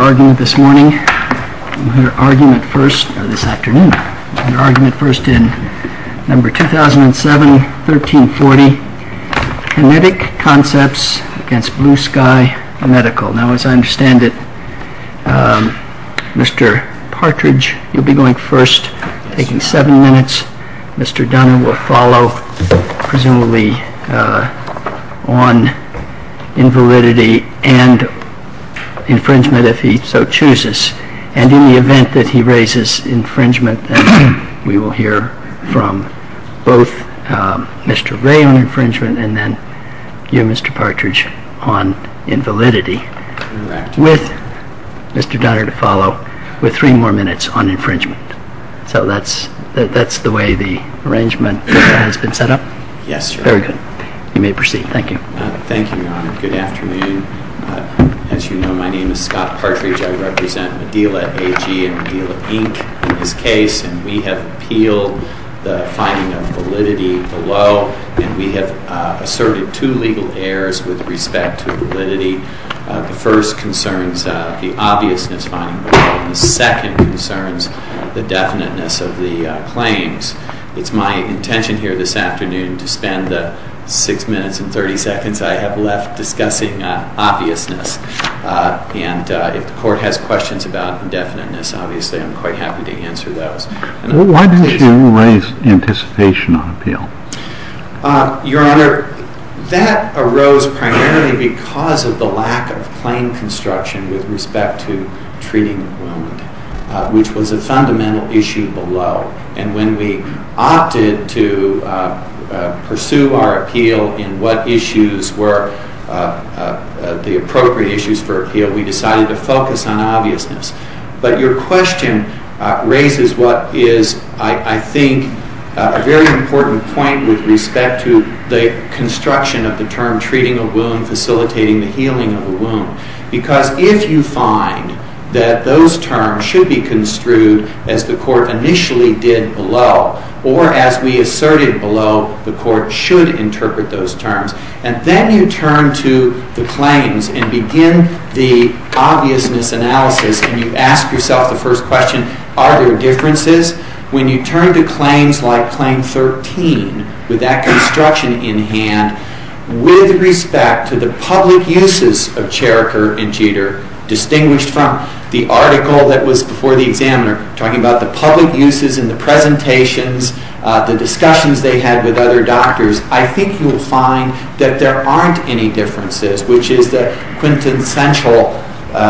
Your argument first in number 2007, 1340, Kinetic Concepts against Blue Sky Medical. Now, as I understand it, Mr. Partridge, you'll be going first, taking seven minutes. Mr. Dunn will follow, presumably, on invalidity and infringement, if he so chooses. And in the event that he raises infringement, we will hear from both Mr. Ray on infringement, and then you, Mr. Partridge, on invalidity, with Mr. Dunner to follow, with three more minutes on infringement. So that's the way the arrangement has been set up? Yes, sir. Very good. You may proceed. Thank you. Thank you, Your Honor. Good afternoon. As you know, my name is Scott Partridge. I represent Medila AG and Medila Inc. in this case, and we have appealed the finding of validity below, and we have asserted two legal errors with respect to validity. The first concerns the obviousness finding, and the second concerns the definiteness of the claims. It's my intention here this afternoon to spend the six minutes and 30 seconds I have left discussing obviousness, and if the Court has questions about the definiteness, obviously, I'm quite happy to answer those. Why don't you raise anticipation on appeal? Your Honor, that arose primarily because of the lack of plain construction with respect to treating the wound, which was a fundamental issue below, and when we opted to pursue our appeal in what issues were the appropriate issues for appeal, we decided to focus on obviousness. But your question raises what is, I think, a very important point with respect to the construction of the term treating a wound, facilitating the healing of a wound. Because if you find that those terms should be construed as the Court initially did below, or as we asserted below, the Court should interpret those terms, and then you turn to the claims and begin the obviousness analysis, and you ask yourself the first question, are there differences? When you turn to claims like Claim 13, with that construction in hand, with respect to the public uses of character and cheater, distinguished from the article that was before the examiner talking about the public uses in the presentations, the discussions they had with other doctors, I think you will find that there aren't any differences, which is a quintessential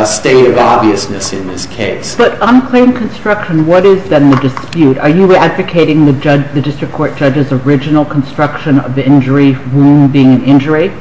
state of obviousness in this case. But on claim construction, what is then the dispute? Are you advocating the district court judge's original construction of the injury, wound being an injury?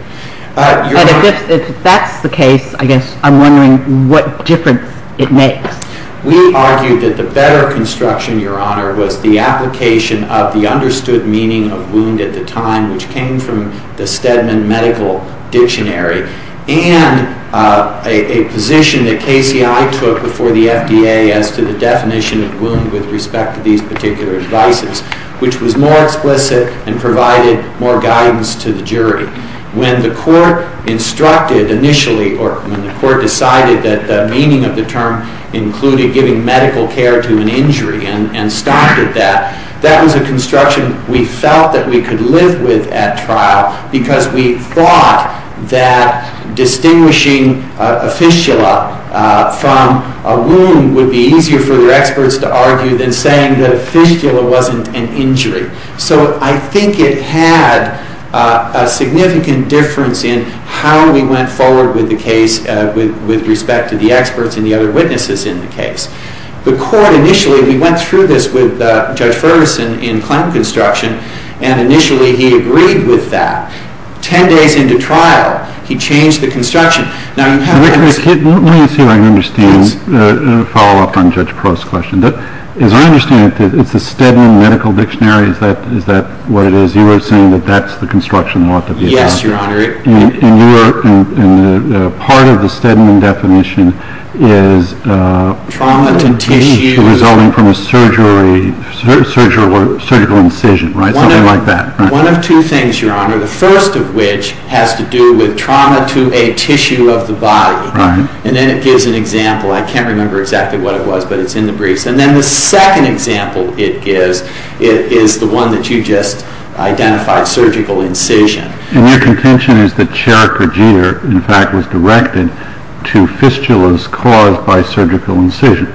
If that's the case, I guess I'm wondering what difference it makes. We argue that the better construction, Your Honor, was the application of the understood meaning of wound at the time, which came from the Stedman Medical Dictionary, and a position that KCI took before the FDA as to the definition of wound with respect to these particular advices, which was more explicit and provided more guidance to the jury. When the Court instructed initially, or when the Court decided that the meaning of the term included giving medical care to an injury and stopped at that, that was a construction we felt that we could live with at trial because we thought that distinguishing a fistula from a wound would be easier for the experts to argue than saying that a fistula wasn't an injury. So I think it had a significant difference in how we went forward with the case with respect to the experts and the other witnesses in the case. The Court initially, he went through this with Judge Ferguson in clinical instruction, and initially he agreed with that. Ten days into trial, he changed the construction. Let me see if I can understand the follow-up on Judge Crow's question. As I understand it, it's the Stedman Medical Dictionary, is that what it is? You are saying that that's the construction law that we have? Yes, Your Honor. And part of the Stedman definition is resulting from a surgical incision, right? Something like that, right? One of two things, Your Honor, the first of which has to do with trauma to a tissue of the body. And then it gives an example. I can't remember exactly what it was, but it's in the briefs. And then the second example it gives is the one that you just identified, surgical incision. And your contention is that Charik or Jeter, in fact, was directed to fistulas caused by surgical incisions.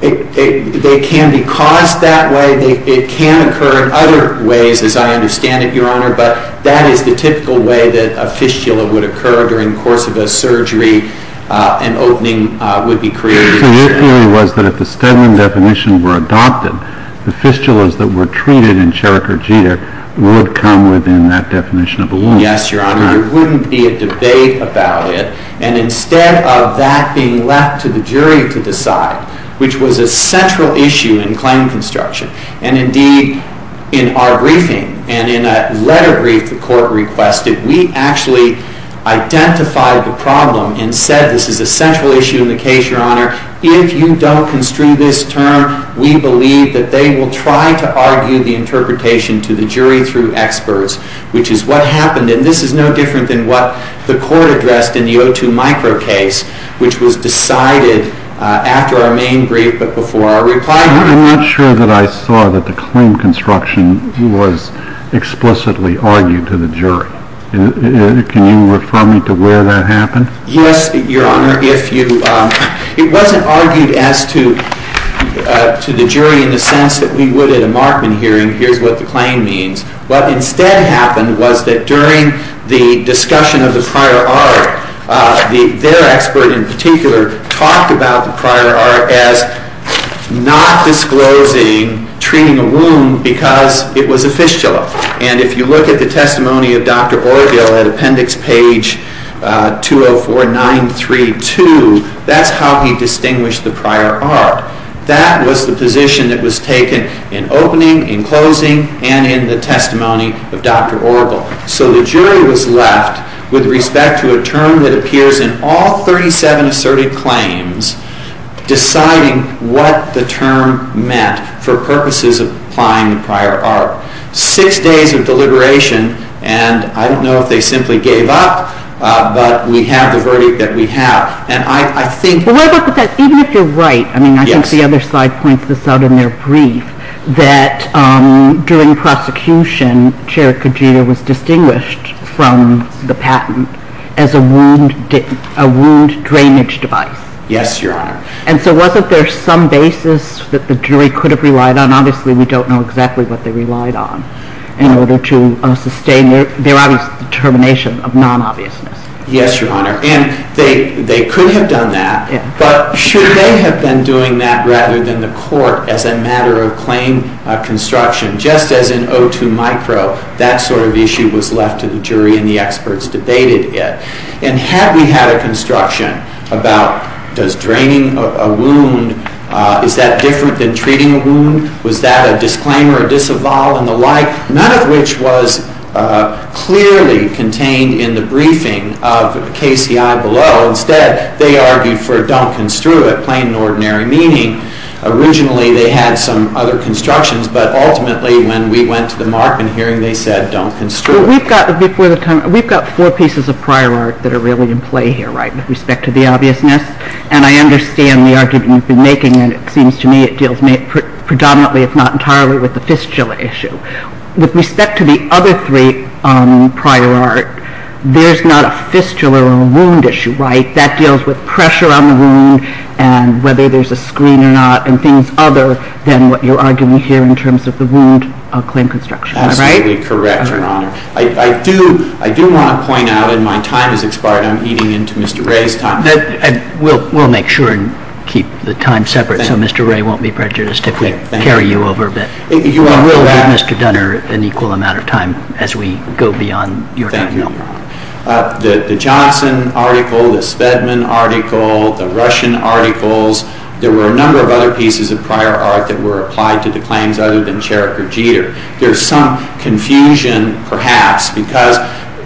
They can be caused that way. They can occur in other ways, as I understand it, Your Honor, but that is the typical way that a fistula would occur during the course of a surgery. An opening would be created. The way it really was that if the Stedman definition were adopted, the fistulas that were treated in Charik or Jeter would come within that definition of the law. Yes, Your Honor. There wouldn't be a debate about it. And instead of that being left to the jury to decide, which was a central issue in claim construction, and indeed in our briefing and in a letter brief the court requested, we actually identified the problem and said this is a central issue in the case, Your Honor. If you don't construe this term, we believe that they will try to argue the interpretation to the jury through experts, which is what happened. And this is no different than what the court addressed in the O2 micro case, which was decided after our main brief but before our reply. I'm not sure that I saw that the claim construction was explicitly argued to the jury. Can you refer me to where that happened? Yes, Your Honor. It wasn't argued to the jury in the sense that we would at a Markman hearing, here's what the claim means. What instead happened was that during the discussion of the prior art, their expert in particular talked about the prior art as not disclosing treating a wound because it was a fistula. And if you look at the testimony of Dr. Orville at appendix page 204932, that's how he distinguished the prior art. That was the position that was taken in opening, in closing, and in the testimony of Dr. Orville. So the jury was left with respect to a term that appears in all 37 asserted claims, deciding what the term meant for purposes of applying the prior art. Six days of deliberation, and I don't know if they simply gave up, but we have the verdict that we have. And I think... But what about the fact, even if you're right, I mean, I think the other side points this out in their brief, that during prosecution, Chair Kajita was distinguished from the patent as a wound drainage device. Yes, Your Honor. And so wasn't there some basis that the jury could have relied on? Obviously, we don't know exactly what they relied on in order to sustain their obvious determination of non-obviousness. Yes, Your Honor, and they could have done that, but should they have been doing that rather than the court as a matter of claim construction? Just as in O2 micro, that sort of issue was left to the jury and the experts to debate it. And had we had a construction about does draining a wound, is that different than treating a wound? Was that a disclaimer or disavowal and the like? None of which was clearly contained in the briefing of KCI below. Instead, they argued for Duncan-Stewart, plain and ordinary meaning. Originally, they had some other constructions, but ultimately when we went to the market hearing, they said Duncan-Stewart. We've got four pieces of prior art that are really in play here with respect to the obviousness, and I understand the argument you've been making, and it seems to me it deals predominantly, if not entirely, with the fistula issue. With respect to the other three prior art, there's not a fistula or a wound issue, right? That deals with pressure on the wound and whether there's a screen or not and things other than what you're arguing here in terms of the wound claim construction, right? I do want to point out, and my time has expired, I'm eating into Mr. Ray's time. We'll make sure and keep the time separate so Mr. Ray won't be prejudiced to carry you over, but we'll allow Mr. Dunner an equal amount of time as we go beyond your time. Thank you. The Johnson article, the Spedman article, the Russian articles, there were a number of other pieces of prior art that were applied to the claims other than Sheriff Verjeer. There's some confusion perhaps because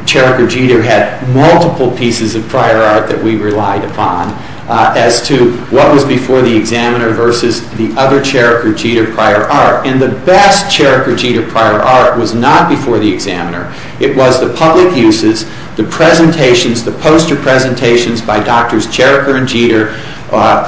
Sheriff Verjeer had multiple pieces of prior art that we relied upon as to what was before the examiner versus the other Sheriff Verjeer prior art, and the best Sheriff Verjeer prior art was not before the examiner. It was the public uses, the presentations, the poster presentations by Doctors Sheriff Verjeer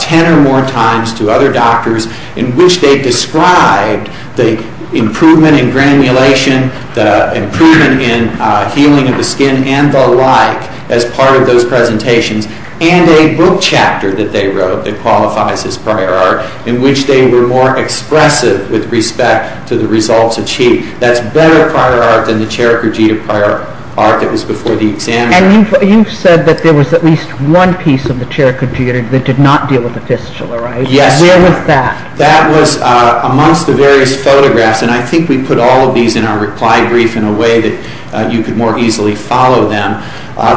ten or more times to other doctors in which they described the improvement in granulation, the improvement in healing of the skin and the like as part of those presentations, and a book chapter that they wrote that qualifies as prior art in which they were more expressive with respect to the results achieved. That's better prior art than the Sheriff Verjeer prior art that was before the examiner. You said that there was at least one piece of the chair computer that did not deal with the fistula, right? Yes. Where was that? That was amongst the various photographs, and I think we put all of these in our reply brief in a way that you could more easily follow them.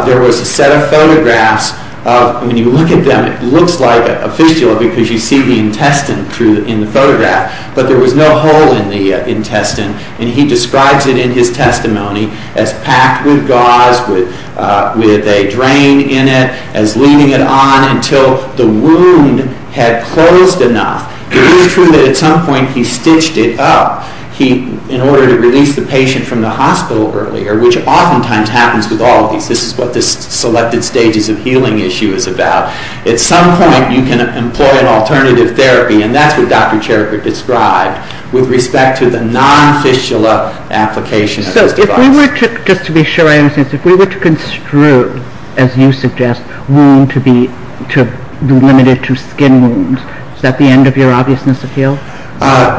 There was a set of photographs. When you look at them, it looks like a fistula because you see the intestine in the photograph, but there was no hole in the intestine, and he describes it in his testimony as packed with gauze, with a drain in it, and looming it on until the wound had closed enough. It is true that at some point he stitched it up in order to release the patient from the hospital earlier, which oftentimes happens with all of us. This is what this selected stages of healing issue is about. At some point, you can employ an alternative therapy, with respect to the non-fistula application. If we were to construe, as you suggest, wound to be limited to skin wounds, is that the end of your obviousness appeal?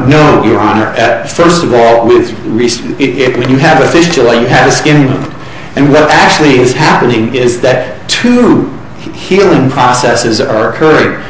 No, Your Honor. First of all, when you have a fistula, you have a skin wound, and what actually is happening is that two healing processes are occurring.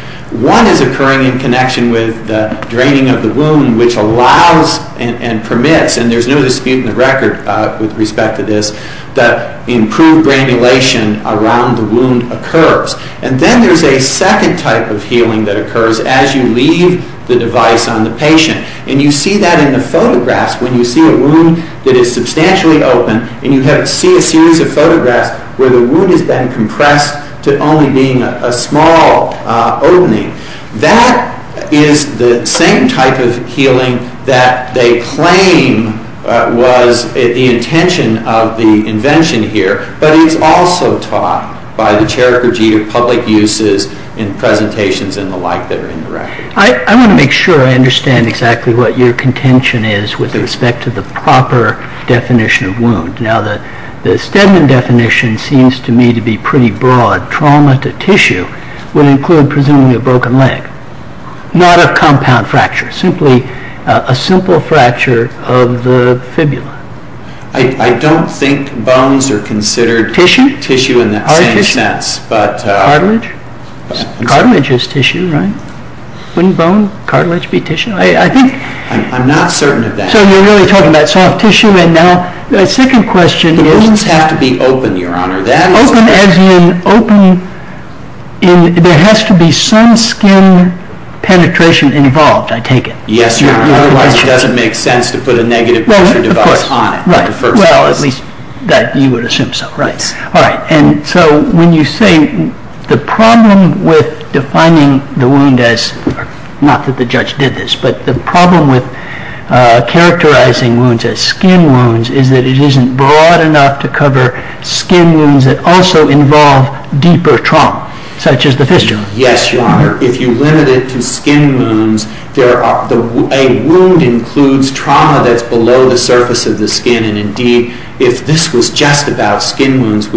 One is occurring in connection with the draining of the wound, which allows and permits, and there's no dispute in the record with respect to this, that improved granulation around the wound occurs. And then there's a second type of healing that occurs as you leave the device on the patient, and you see that in the photographs when you see a wound that is substantially open, and you see a series of photographs where the wound has been compressed to only being a small opening. That is the same type of healing that they claim was the intention of the invention here, but is also taught by the Cherokee public uses in presentations and the like that are in the record. I want to make sure I understand exactly what your contention is with respect to the proper definition of wound. Now, the Stedman definition seems to me to be pretty broad. Trauma to tissue will include presumably a broken leg, not a compound fracture, simply a simple fracture of the fibula. I don't think bones are considered tissue in that sense. Cartilage? Cartilage is tissue, right? Any bone, cartilage would be tissue, I think. I'm not certain of that. So you're really talking about soft tissue. Now, the second question is... Wounds have to be open, Your Honor. Open as in there has to be some skin penetration involved, I take it. Yes, Your Honor. Otherwise it doesn't make sense to put a negative picture of the device on. Well, at least you would assume so. All right. So when you say the problem with defining the wound as, not that the judge did this, but the problem with characterizing wounds as skin wounds is that it isn't broad enough to cover skin wounds that also involve deeper trauma, such as the fistula. Yes, Your Honor. If you limit it to skin wounds, a wound includes trauma that's below the surface of the skin. And, indeed, if this was just about skin wounds,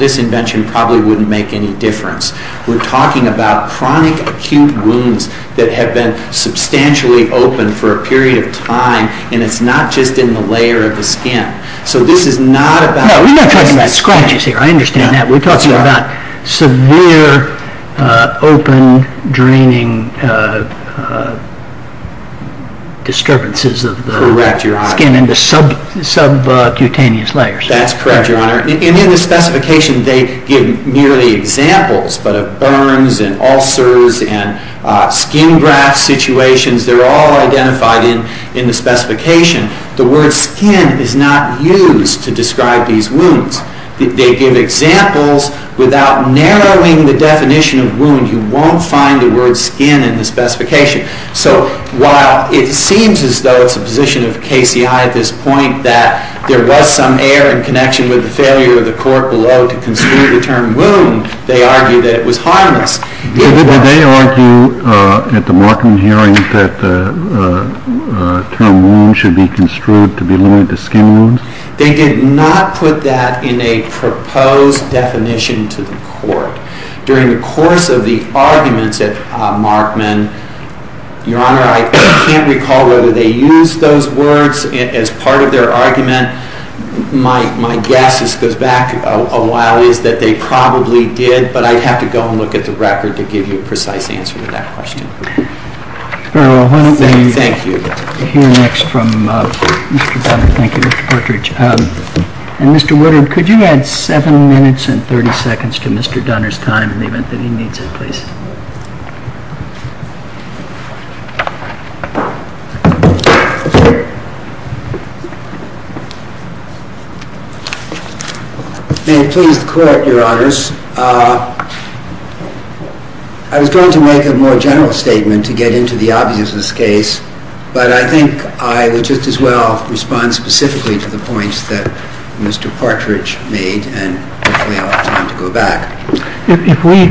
this invention probably wouldn't make any difference. We're talking about chronic acute wounds that have been substantially open for a period of time, and it's not just in the layer of the skin. So this is not about... No, we're not talking about scratches here. I understand that. We're talking about severe open, draining disturbances of the skin in the subcutaneous layers. That's correct, Your Honor. And in the specification, they give merely examples of burns and ulcers and skin graft situations. They're all identified in the specification. The word skin is not used to describe these wounds. They give examples without narrowing the definition of wound. You won't find the word skin in the specification. So while it seems as though it's a position of the KCI at this point that there was some error in connection with the failure of the court below to construe the term wound, they argue that it was harmless. Did they argue at the Markman hearing that the term wound should be construed to be limited to skin wounds? They did not put that in a proposed definition to the court. During the course of the arguments at Markman, Your Honor, I can't recall whether they used those words as part of their argument. My guess goes back a while is that they probably did, but I'd have to go and look at the record to give you a precise answer to that question. Thank you. We'll hear next from Mr. Dunner. Thank you, Mr. Partridge. And Mr. Woodard, could you add seven minutes and 30 seconds to Mr. Dunner's time, and even if he needs it, please? In terms of court, Your Honors, I was going to make a more general statement to get into the obviousness case, but I think I would just as well respond specifically to the points that Mr. Partridge made, and hopefully I'll have time to go back. If we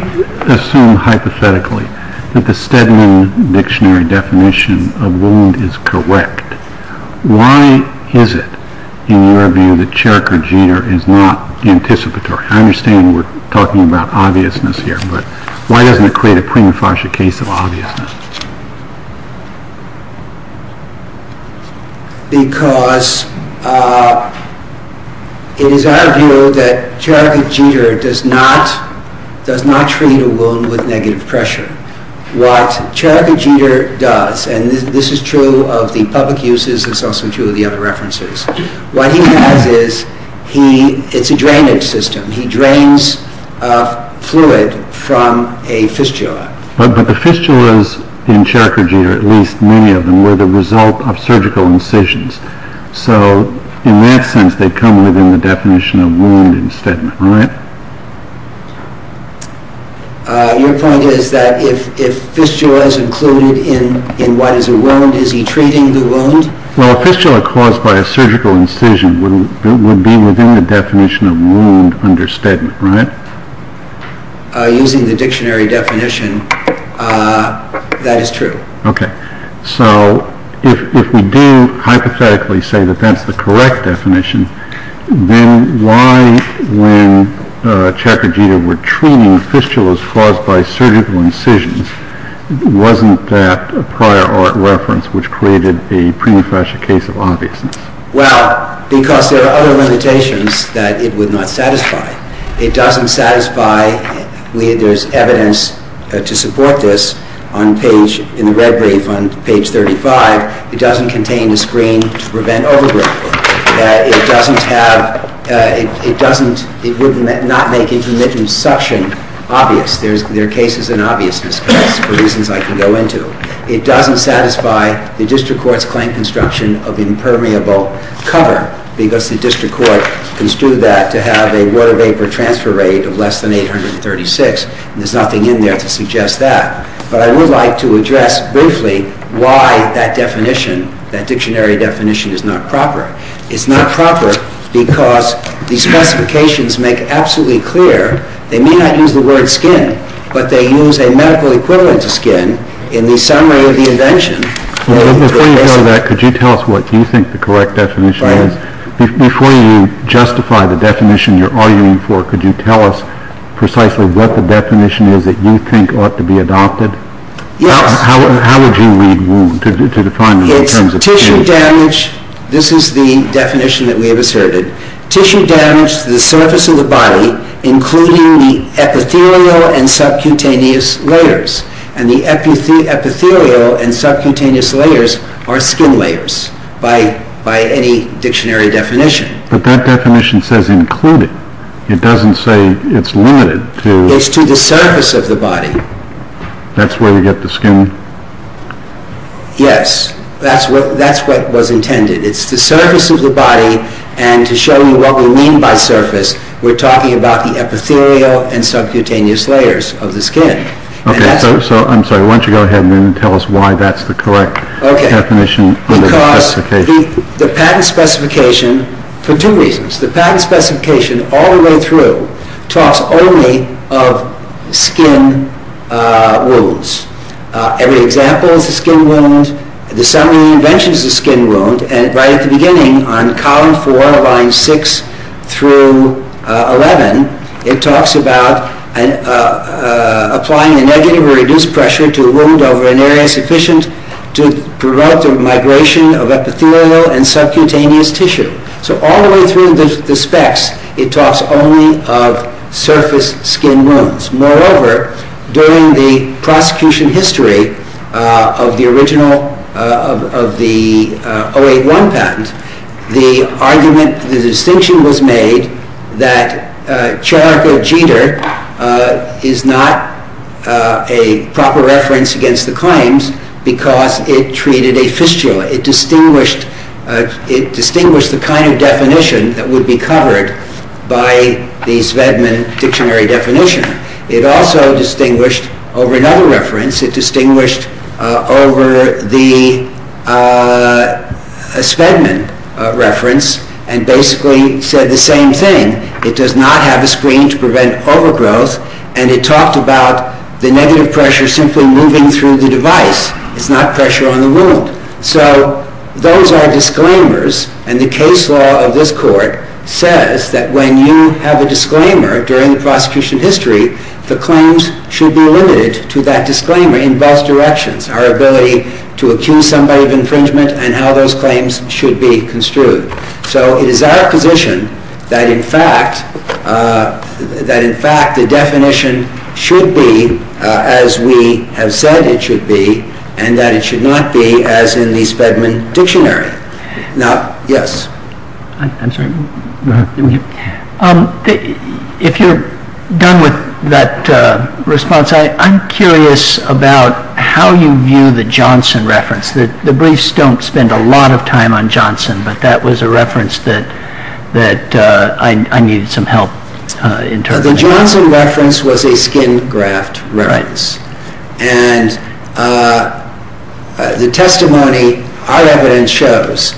assume hypothetically that the Stedman Dictionary definition of wound is correct, why is it, in your opinion, that Cherokee jitter is not anticipatory? I understand we're talking about obviousness here, but why doesn't it create a prima facie case of obviousness? Because it is our view that Cherokee jitter does not treat a wound with negative pressure. What Cherokee jitter does, and this is true of the public uses, this is also true of the other references, what he does is he, it's a drainage system, he drains fluid from a fistula. But the fistulas in Cherokee jitter, at least many of them, were the result of surgical incisions. So in that sense, they come within the definition of wound in Stedman, right? Your point is that if fistula is included in why is it wound, is he treating the wound? Well, a fistula caused by a surgical incision would be within the definition of wound under Stedman, right? Using the dictionary definition, that is true. Okay. So if we do hypothetically say that that's the correct definition, then why, when Cherokee jitter would treat a fistula caused by surgical incisions, wasn't that a prior art reference which created a prima facie case of obviousness? Well, because there are other limitations that it would not satisfy. It doesn't satisfy, there's evidence to support this on page, on page 35, it doesn't contain the screen to prevent overdrive. It doesn't have, it doesn't, it would not make intermittent suction obvious. There are cases in obviousness for reasons I can go into. It doesn't satisfy the district court's claim construction of impermeable color because the district court construed that to have a water vapor transfer rate of less than 836, and there's nothing in there to suggest that. But I would like to address briefly why that definition, that dictionary definition is not proper. It's not proper because the specifications make it absolutely clear. They may not use the word skin, but they use a medical equivalent to skin in the summary of the invention. Before you go to that, could you tell us what you think the correct definition is? Before you justify the definition you're arguing for, could you tell us precisely what the definition is that you think ought to be adopted? Yes. How would you read wound to define it in terms of skin? Tissue damage, this is the definition that we've asserted. Tissue damage to the surface of the body, including the epithelial and subcutaneous layers, and the epithelial and subcutaneous layers are skin layers by any dictionary definition. But that definition says included. It doesn't say it's limited. It's to the surface of the body. That's where we get the skin? Yes. That's what was intended. It's the surface of the body, and to show you what we mean by surface, we're talking about the epithelial and subcutaneous layers of the skin. Okay. I'm sorry. Why don't you go ahead and tell us why that's the correct definition? Because the patent specification, for two reasons. The patent specification all the way through talks only of skin wounds. Every example is a skin wound. The summary of the invention is a skin wound. And right at the beginning on column four, line six through 11, it talks about applying a negative or reduced pressure to a wound over an area sufficient to prevent the migration of epithelial and subcutaneous tissue. So all the way through the specs, it talks only of surface skin wounds. Moreover, during the prosecution history of the original, of the 081 patent, the argument, the distinction was made that character of gender is not a proper reference against the claims because it treated a fistula. It distinguished the kind of definition that would be covered by the Svedman dictionary definition. It also distinguished over another reference. It distinguished over the Svedman reference and basically said the same thing. It does not have a screen to prevent overgrowth. And it talked about the negative pressure simply moving through the device. It's not pressure on the wound. So those are disclaimers. And the case law of this court says that when you have a disclaimer during the prosecution history, the claims should be limited to that disclaimer in both directions, our ability to accuse somebody of infringement and how those claims should be construed. So it is our position that, in fact, the definition should be as we have said it should be and that it should not be as in the Svedman dictionary. Now, yes. If you're done with that response, I'm curious about how you view the Johnson reference. The briefs don't spend a lot of time on Johnson, but that was a reference that I needed some help interpreting. The Johnson reference was a skin graft reference. Right. It shows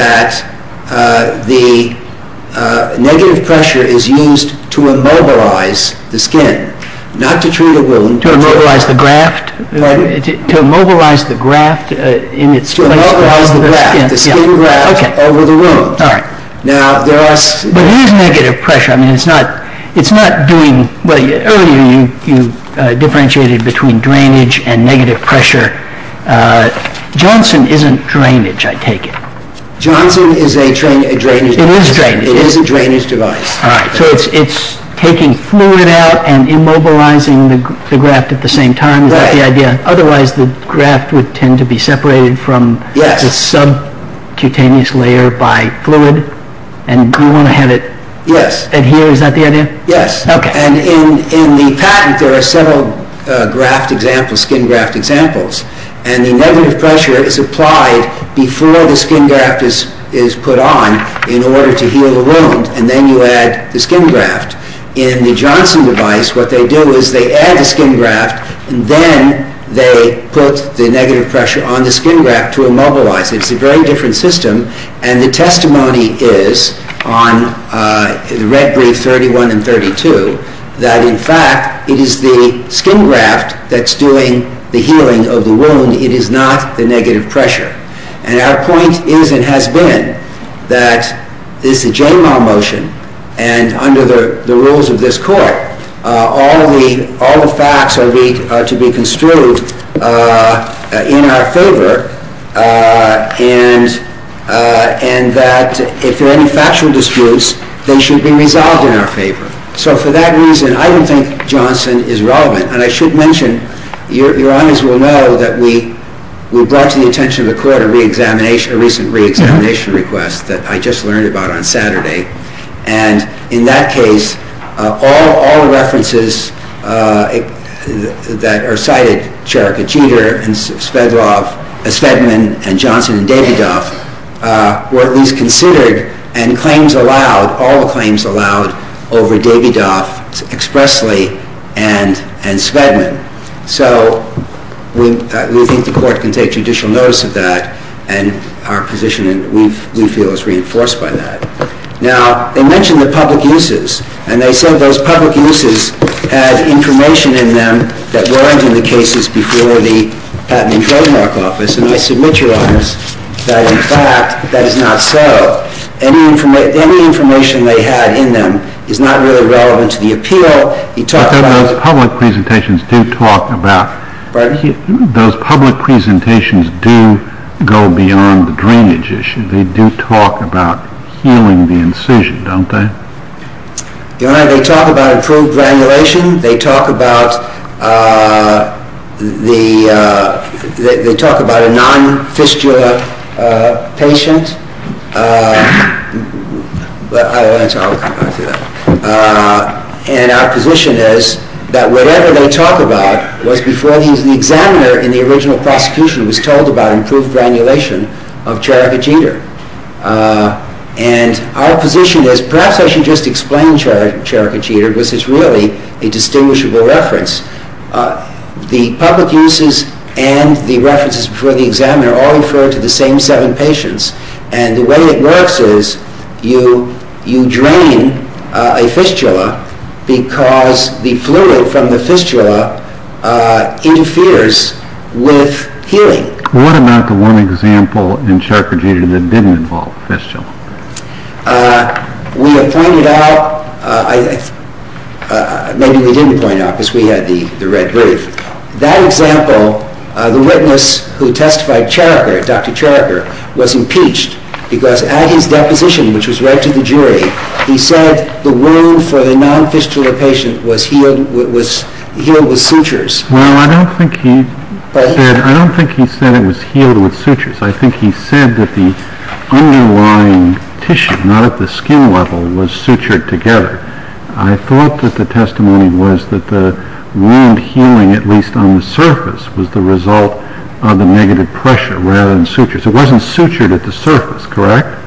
that the negative pressure is used to immobilize the skin, not to treat a wound. To immobilize the graft? To immobilize the graft in its skin. To immobilize the skin. The skin graft over the wound. All right. But here's negative pressure. I mean, it's not doing – earlier you differentiated between drainage and negative pressure. Johnson isn't drainage, I take it. Johnson is a drainage device. It is drainage. It is a drainage device. All right. So it's taking fluid out and immobilizing the graft at the same time. Right. That's the idea. Otherwise the graft would tend to be separated from the subcutaneous layer by fluid. And we want to have it adhere. Yes. Is that the idea? Yes. And in the patent there are several skin graft examples. And the negative pressure is applied before the skin graft is put on in order to heal the wound, and then you add the skin graft. In the Johnson device, what they do is they add the skin graft, and then they put the negative pressure on the skin graft to immobilize. It's a very different system. And the testimony is on the Red Brief 31 and 32 that, in fact, it is the skin graft that's doing the healing of the wound. It is not the negative pressure. And our point is and has been that this is a JMAW motion, and under the rules of this court, all the facts are to be construed in our favor and that if there are any factual disputes, they should be resolved in our favor. So for that reason, I don't think Johnson is relevant. And I should mention, your audience will know, that we brought to the attention of the court a recent reexamination request that I just learned about on Saturday. Cherokee Teeter and Spedman and Johnson and Davidoff were reconsidered and claims allowed, all the claims allowed, over Davidoff expressly and Spedman. So we think the court can take judicial notice of that, and our position, we feel, is reinforced by that. Now, they mentioned the public uses, and they said those public uses had information in them that weren't in the cases before the Patent and Trademark Office, and I submit, your audience, that in fact that is not so. Any information they had in them is not really relevant to the appeal. They talk about the public presentations do talk about, those public presentations do go beyond the drainage issue. They do talk about healing the incision, don't they? Your Honor, they talk about improved granulation. They talk about the non-fiscular patient. And our position is that whatever they talk about was before he was an examiner in the original prosecution was told about improved granulation of Cherokee cheetah. And our position is, perhaps I should just explain Cherokee cheetah, which is really a distinguishable reference. The public uses and the references before the examiner all refer to the same seven patients, and the way it works is you drain a fistula because the fluid from the fistula interferes with healing. What about the one example in Cherokee cheetah that didn't involve a fistula? We have pointed out, maybe we didn't point out because we had the red herb. That example, the witness who testified, Cherokee, Dr. Cherokee, was impeached because at his deposition, which was read to the jury, he said the wound for the non-fiscular patient was healed with sutures. No, I don't think he said it was healed with sutures. I think he said that the underlying tissue, not at the skin level, was sutured together. I thought that the testimony was that the wound healing, at least on the surface, was the result of the negative pressure rather than sutures. It wasn't sutured at the surface, correct?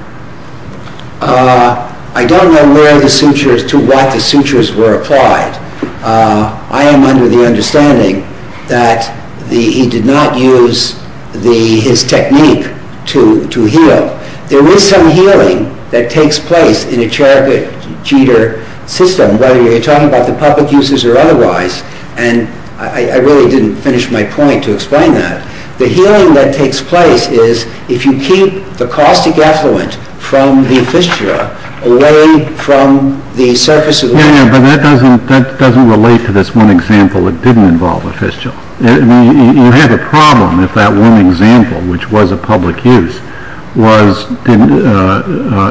I don't know where the sutures, to what the sutures were applied. I am under the understanding that he did not use his technique to heal. There is some healing that takes place in a Cherokee cheetah system, whether you're talking about the public uses or otherwise, and I really didn't finish my point to explain that. The healing that takes place is if you keep the caustic effluent from the fistula away from the surface of the wound. But that doesn't relate to this one example that didn't involve a fistula. You have a problem if that one example, which was a public use,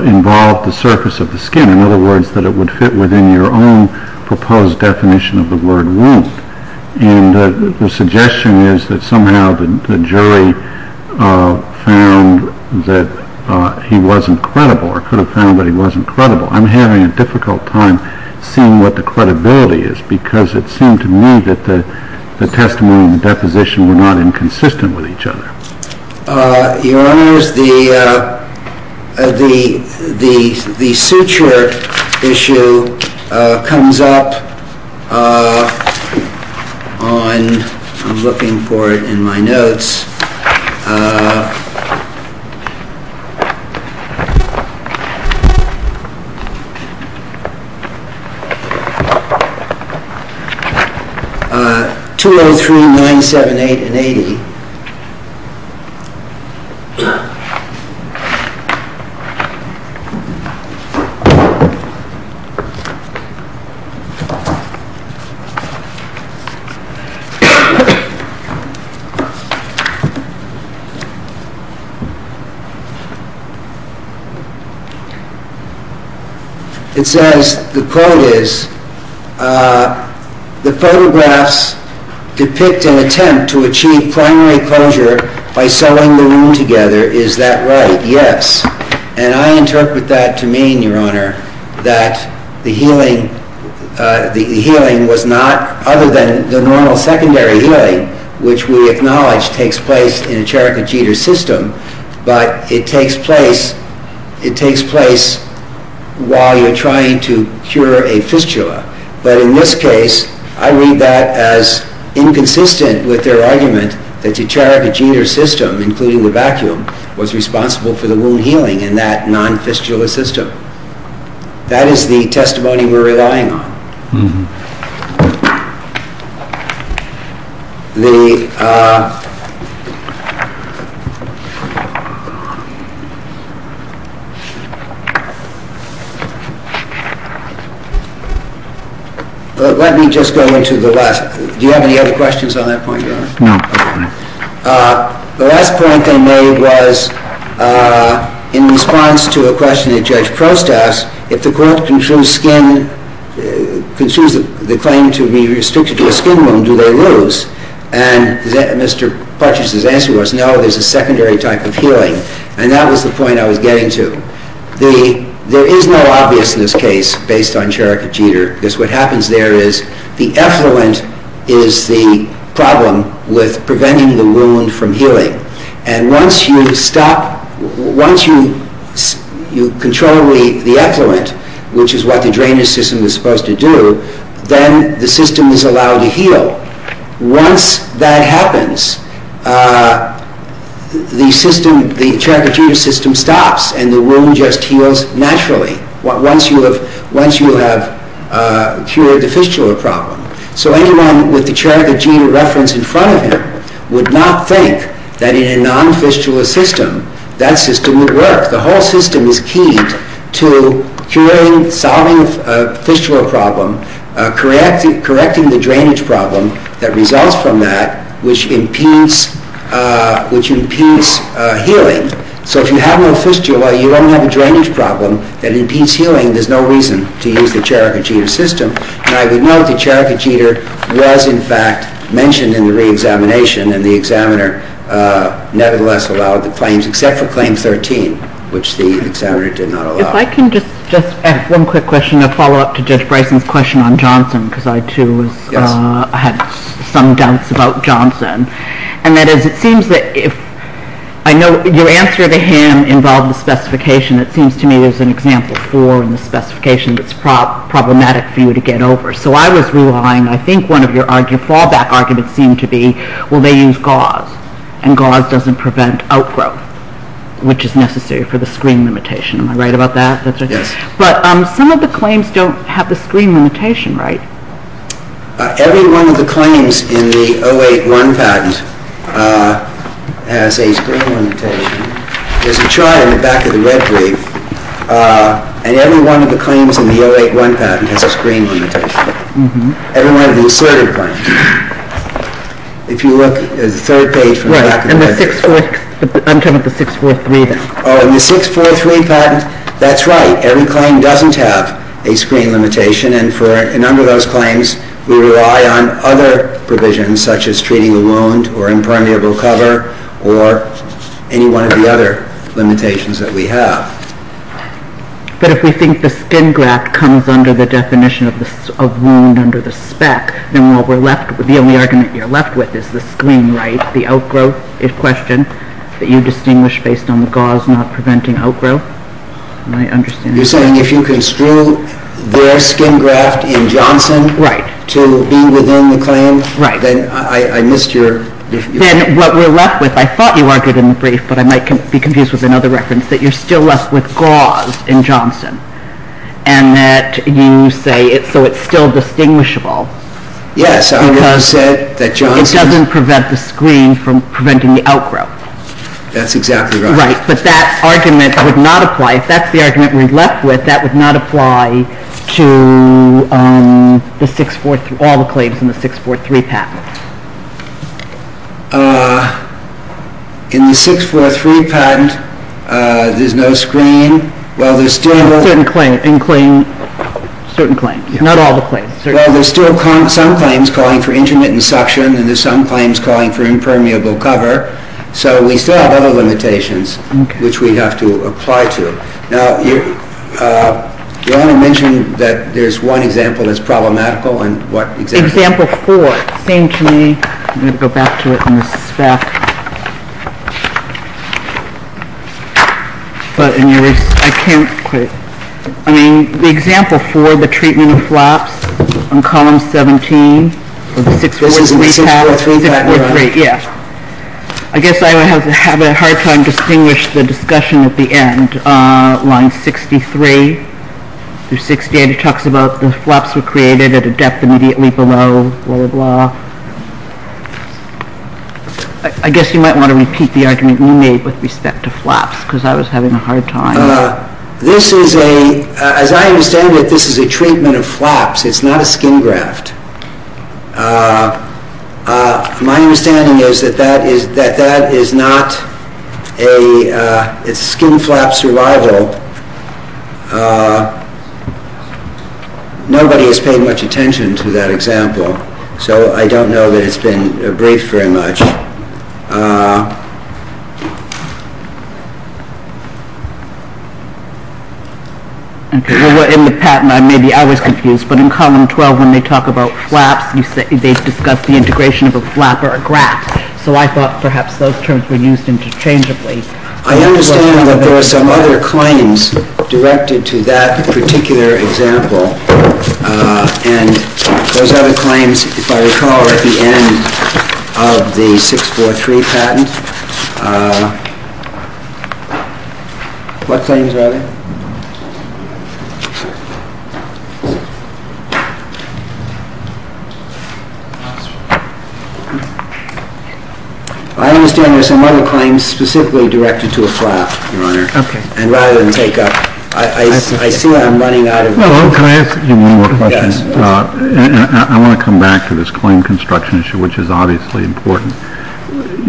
involved the surface of the skin, in other words, that it would fit within your own proposed definition of the word wound. And the suggestion is that somehow the jury found that he wasn't credible or could have found that he wasn't credible. I'm having a difficult time seeing what the credibility is because it seemed to me that the testimony and deposition were not inconsistent with each other. Your Honor, the suture issue comes up on, I'm looking for it in my notes, 202-978-80. It says, the quote is, the photographs depict an attempt to achieve primary closure by sewing the wound together. Is that right? Yes. And I interpret that to mean, Your Honor, that the healing was not other than the normal secondary healing, which we acknowledge takes place in a Cherokee Jeter system, but it takes place while you're trying to cure a fistula. But in this case, I read that as inconsistent with their argument that the Cherokee Jeter system, including the vacuum, was responsible for the wound healing in that non-fistula system. That is the testimony we're relying on. Let me just go to the last one. Do you have any other questions on that point, Your Honor? No. The last point I made was in response to a question that Judge Post asked, if the group consumes the claim to be restricted to a skin wound, do they lose? And Mr. Fletcher's answer was, no, there's a secondary type of healing. And that was the point I was getting to. There is no obviousness case based on Cherokee Jeter, because what happens there is, the effluent is the problem with preventing the wound from healing. And once you stop, once you control the effluent, which is what the drainage system is supposed to do, then the system is allowed to heal. Once that happens, the Cherokee Jeter system stops, and the wound just heals naturally, once you have cured the fistula problem. So anyone with the Cherokee Jeter reference in front of them would not think that in a non-fistula system, that system would work. The whole system is key to curing, solving a fistula problem, correcting the drainage problem that results from that, which impedes healing. So if you have no fistula, you don't have a drainage problem that impedes healing, there's no reason to use the Cherokee Jeter system. Now, we know the Cherokee Jeter was, in fact, mentioned in the re-examination, and the examiner nevertheless allowed the claims, except for claim 13, which the examiner did not allow. If I can just ask one quick question, a follow-up to Judge Brayton's question on Johnson, because I, too, had some doubts about Johnson. And that is, it seems that if, I know, your answer to him involves a specification that seems to me is an example four, and the specification that's problematic for you to get over. So I was relying, and I think one of your fallback arguments seemed to be, well, they use gauze, and gauze doesn't prevent outgrowth, which is necessary for the screen limitation. Am I right about that? Yes. But some of the claims don't have the screen limitation, right? Every one of the claims in the 081 patent has a screen limitation. There's a chart in the back of the red brief. And every one of the claims in the 081 patent has a screen limitation. Every one of the asserted claims. If you look at the third page from that. I'm talking about 643. In the 643 patent, that's right. Every claim doesn't have a screen limitation. And for a number of those claims, we rely on other provisions, such as treating the wound or impermeable cover or any one of the other limitations that we have. But if we think the skin graft comes under the definition of wound under the spec, then what we're left with, the only argument you're left with is the screen, right? The outgrowth is questioned that you distinguish based on the gauze not preventing outgrowth. And I understand that. You're saying if you can screw their skin graft in Johnson to be within the claims, then I missed your definition. Then what we're left with, I thought you argued in the brief, but I might be confused with another reference, that you're still left with gauze in Johnson. And that you say, so it's still distinguishable. Yes. Because it doesn't prevent the screen from preventing the outgrowth. That's exactly right. Right. But that argument would not apply. If that's the argument we're left with, that would not apply to all the claims in the 643 patent. In the 643 patent, there's no screen. Well, there's still no screen. In certain claims. Not all the claims. Well, there's still some claims calling for intermittent suction and there's some claims calling for impermeable cover. So we still have other limitations which we'd have to apply to. Now, you only mentioned that there's one example that's problematical. Example four. Same to me. I'm going to go back to it in a sec. But I can't. I mean, the example four, the treatment of flops on column 17. The one that we have. Yes. I guess I would have to have a hard time distinguish the discussion at the end. On 63. 63 talks about the flops were created at a depth immediately below blah, blah, blah. I guess you might want to repeat the argument you made with respect to flops because I was having a hard time. This is a, as I understand it, this is a treatment of flops. It's not a skin graft. My understanding is that that is not a skin flap survival. Nobody has paid much attention to that example. So I don't know that it's been raised very much. In the patent, maybe I was confused, but in column 12 when they talk about flaps, they discuss the integration of a flap or a graft. So I thought perhaps those terms were used interchangeably. I understand that there are some other claims directed to that particular example. And those other claims, if I recall at the end of the 643, the patent, what claims were they? I understand there are some other claims specifically directed to a flap, Your Honor, rather than take up. I see I'm running out of time. Can I ask you one more question? Yes. I want to come back to this claim construction issue, which is obviously important.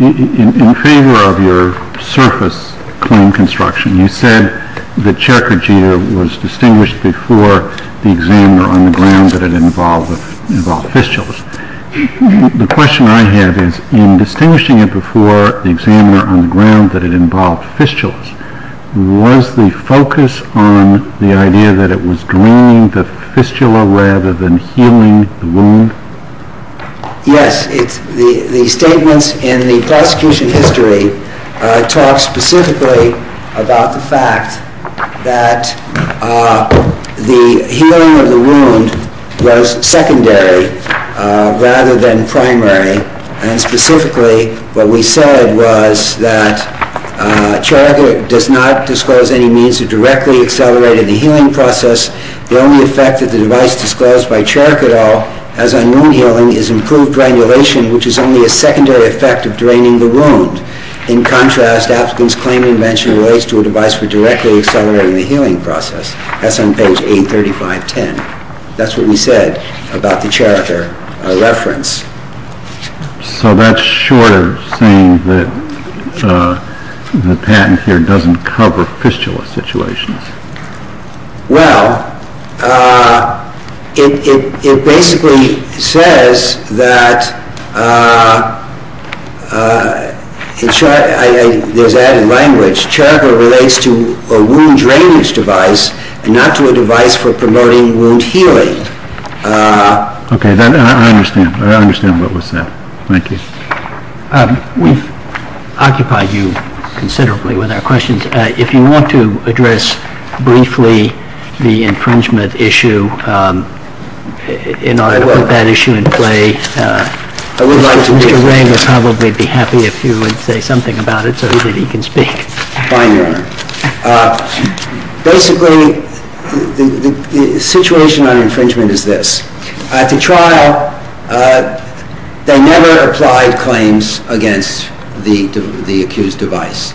In favor of your surface claim construction, you said the checker gear was distinguished before the examiner on the ground that it involved fistulas. The question I have is, in distinguishing it before the examiner on the ground that it involved fistulas, was the focus on the idea that it was drawing the fistula rather than healing the wound? Yes. The statements in the prosecution history talk specifically about the fact that the healing of the wound was secondary rather than primary. And specifically, what we said was that character does not disclose any means of directly accelerating the healing process. The only effect of the device disclosed by character at all, as on wound healing, is improved granulation, which is only a secondary effect of draining the wound. In contrast, Afton's claiming mentioned ways to a device for directly accelerating the healing process. That's on page 835.10. That's what he said about the character reference. So that's short of saying that the patent here doesn't cover fistula situations. Well, it basically says that, in short, I was adding language, that the character relates to a wound drainage device and not to a device for primary wound healing. Okay. I understand. I understand what was said. Thank you. We've occupied you considerably with our questions. If you want to address briefly the infringement issue, in order to put that issue in play, Mr. Ray would probably be happy if you would say something about it so that he can speak finally. Basically, the situation on infringement is this. At the trial, they never applied claims against the accused device.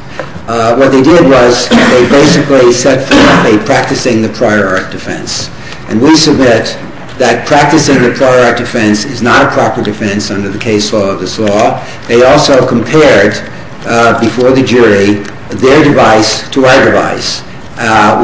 What they did was they basically set forth a practicing the prior art defense. And we submit that practicing the prior art defense is not a proper defense under the case law of this law. They also compared, before the jury, their device to our device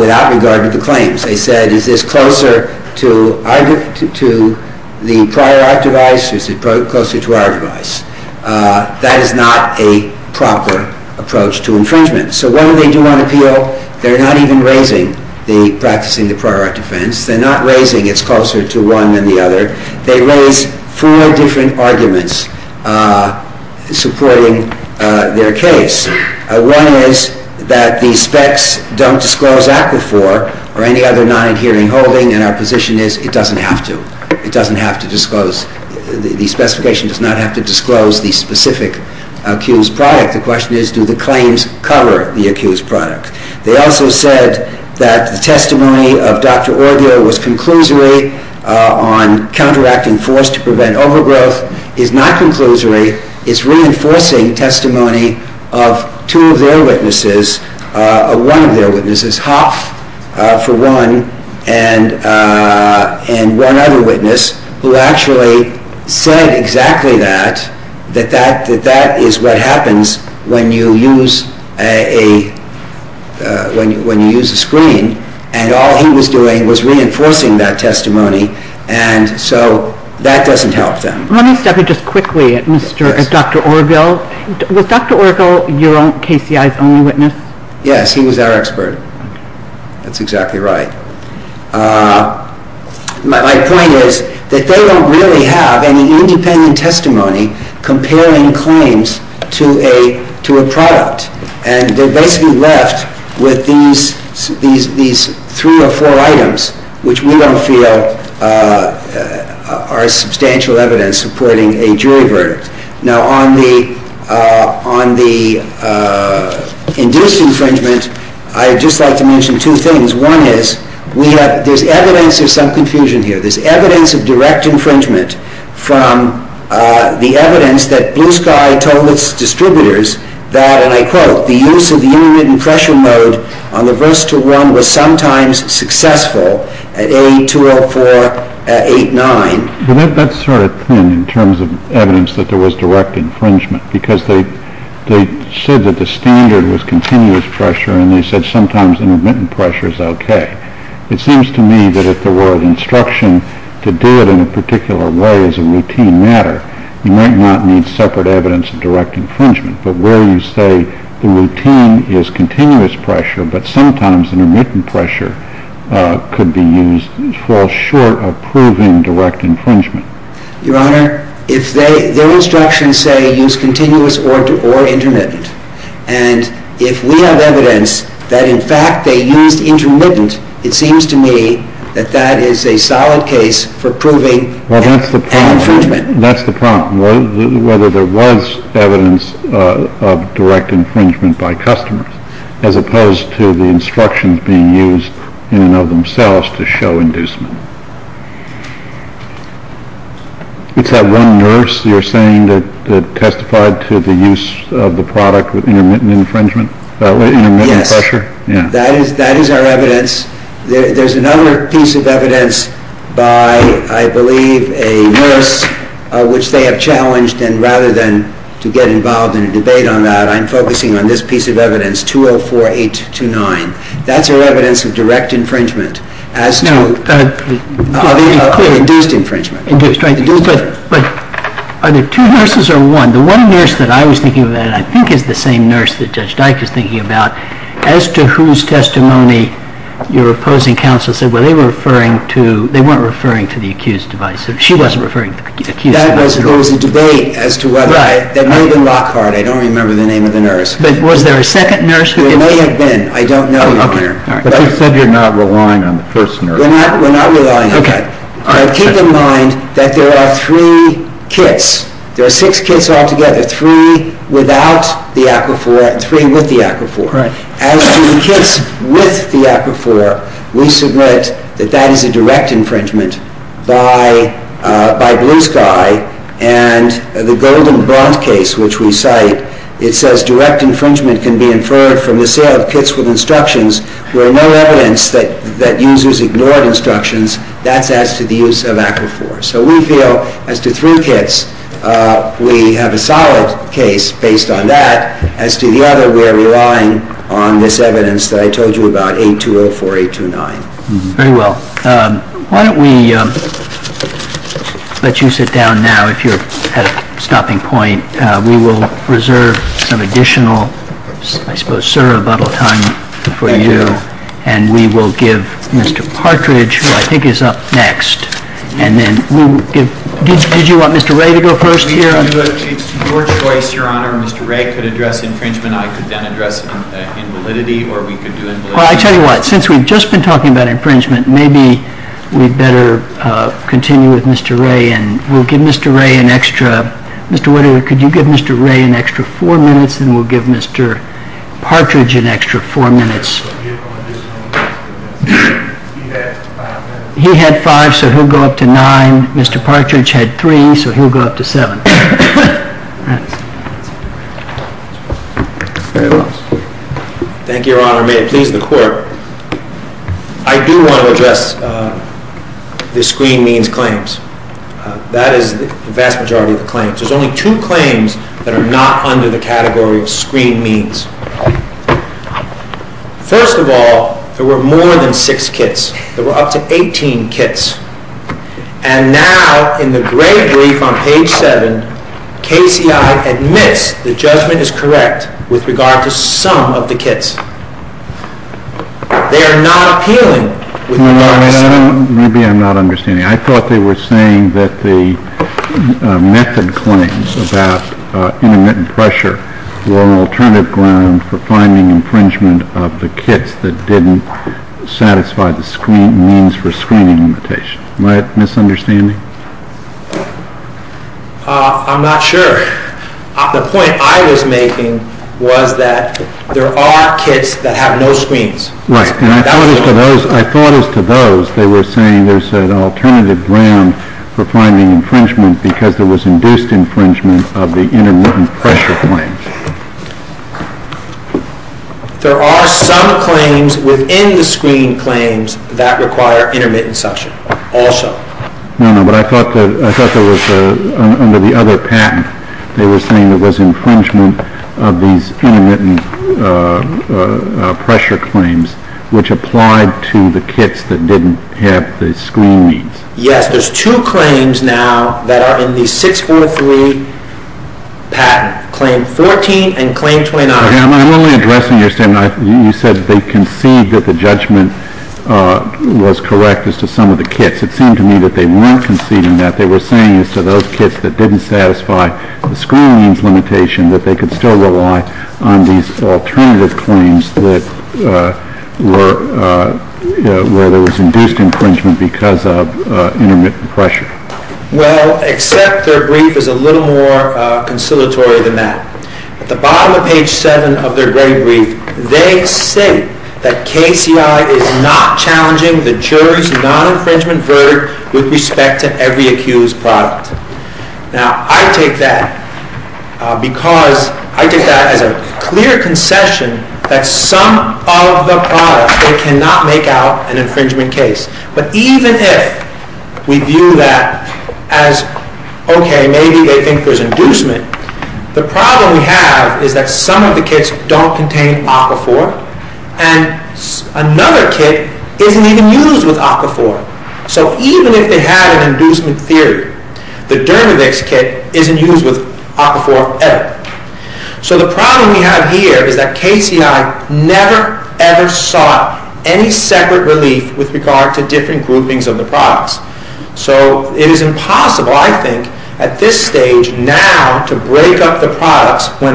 without regard to claims. They said, is this closer to the prior art device or is it closer to our device? That is not a proper approach to infringement. So what did they do on appeal? They're not even raising the practicing the prior art defense. They're not raising it's closer to one than the other. They raised four different arguments supporting their case. One is that the specs don't disclose APA IV or any other non-adhering holding, and our position is it doesn't have to. It doesn't have to disclose. The specification does not have to disclose the specific accused product. The question is, do the claims cover the accused product? They also said that the testimony of Dr. Orvio was conclusory on counteracting force to prevent overgrowth. It's not conclusory. It's reinforcing testimony of two of their witnesses, one of their witnesses, Hoff, for one, and one other witness who actually said exactly that, that that is what happens when you use a screen, and all he was doing was reinforcing that testimony, and so that doesn't help them. Let me step in just quickly as Dr. Orvio. Was Dr. Orvio your own KCI's only witness? Yes, he was our expert. That's exactly right. My point is that they don't really have any independent testimony comparing claims to a product, and they're basically left with these three or four items, which we don't feel are substantial evidence supporting a jury verdict. Now, on the induced infringement, I would just like to mention two things. One is there's evidence of some confusion here. There's evidence of direct infringement from the evidence that Blue Sky told its distributors that, and I quote, the use of the intermittent pressure mode on the versatile worm was sometimes successful at A20489. But that's sort of thin in terms of evidence that there was direct infringement because they said that the standard was continuous pressure, and they said sometimes intermittent pressure is okay. It seems to me that if there were an instruction to do it in a particular way as a routine matter, you might not need separate evidence of direct infringement. But where you say the routine is continuous pressure, but sometimes intermittent pressure could be used for short of proving direct infringement. Your Honor, their instructions say use continuous or intermittent, and if we have evidence that in fact they used intermittent, it seems to me that that is a solid case for proving an infringement. Well, that's the problem. That's the problem, whether there was evidence of direct infringement by customers as opposed to the instructions being used in and of themselves to show inducement. You have one nurse you're saying that testified to the use of the product with intermittent infringement? That is our evidence. There's another piece of evidence by, I believe, a nurse, which they have challenged, and rather than to get involved in a debate on that, I'm focusing on this piece of evidence, 204829. That's our evidence of direct infringement. That's not clear, induced infringement. Induced, right. But are there two nurses or one? The one nurse that I was thinking of that I think is the same nurse that Judge Dyke was thinking about, as to whose testimony your opposing counsel said, well, they weren't referring to the accused device. She wasn't referring to the accused device. That was supposed to debate as to whether that might have been Rothbard. I don't remember the name of the nurse. There might have been. I don't know, Your Honor. You said you're not relying on the first nurse. We're not relying on her. Keep in mind that there are three kits. There are six kits altogether, three without the Aquaphor and three with the Aquaphor. As to the kits with the Aquaphor, we submit that that is a direct infringement by Blue Sky, and the Golden Blonde case, which we cite, it says direct infringement can be inferred from the sale of kits with instructions where no evidence that uses ignored instructions. That's as to the use of Aquaphor. So we feel as to three kits, we have a solid case based on that. As to the other, we are relying on this evidence that I told you about, 8204829. Very well. Why don't we let you sit down now if you're at a stopping point. We will reserve some additional, I suppose, sir, a little time for you, and we will give Mr. Partridge, who I think is up next, and then we'll give, did you want Mr. Wray to go first here? It's your choice, Your Honor. Mr. Wray could address infringement. I could then address infraction validity, or we could do infraction validity. Well, I tell you what, since we've just been talking about infringement, maybe we'd better continue with Mr. Wray, and we'll give Mr. Wray an extra, Mr. Whittier, could you give Mr. Wray an extra four minutes, and we'll give Mr. Partridge an extra four minutes. He had five, so he'll go up to nine. Mr. Partridge had three, so he'll go up to seven. Thank you, Your Honor. May it please the Court. I do want to address the screening claims. That is the vast majority of the claims. There's only two claims that are not under the category of screenings. First of all, there were more than six kits. There were up to 18 kits. And now in the great brief on page 7, KCI admits the judgment is correct with regard to some of the kits. They are not appealing. Maybe I'm not understanding. I thought they were saying that the method claims about intermittent pressure were an alternative ground for finding infringement of the kits that didn't satisfy the screenings for screening limitations. Am I misunderstanding? I'm not sure. The point I was making was that there are kits that have no screenings. Right. And I thought as to those, they were saying there's an alternative ground for finding infringement because there was induced infringement of the intermittent pressure claims. There are some claims within the screening claims that require intermittent suction also. No, no, but I thought there was, under the other patent, they were saying there was infringement of these intermittent pressure claims which applied to the kits that didn't have the screenings. Yes, there's two claims now that are in the 643 patent, Claim 14 and Claim 29. Am I really addressing your statement? You said they conceded that the judgment was correct as to some of the kits. It seemed to me that they weren't conceding that. They were saying to those kits that didn't satisfy the screenings limitation that they could still rely on these alternative claims where there was induced infringement because of intermittent pressure. Well, except their brief is a little more conciliatory than that. At the bottom of page 7 of their great brief, they say that KCI is not challenging the jury's non-infringement verdict with respect to every accused product. Now, I take that because I take that as a clear concession that some of the products, they cannot make out an infringement case. But even if we view that as, okay, maybe they think there's inducement, the problem we have is that some of the kits don't contain Aquaphor and another kit isn't even used with Aquaphor. So even if they have an inducement theory, the Dermavix kit isn't used with Aquaphor at all. So the problem we have here is that KCI never, ever sought any separate relief with regard to different groupings of the products. So it is impossible, I think, at this stage now to break up the products. Well,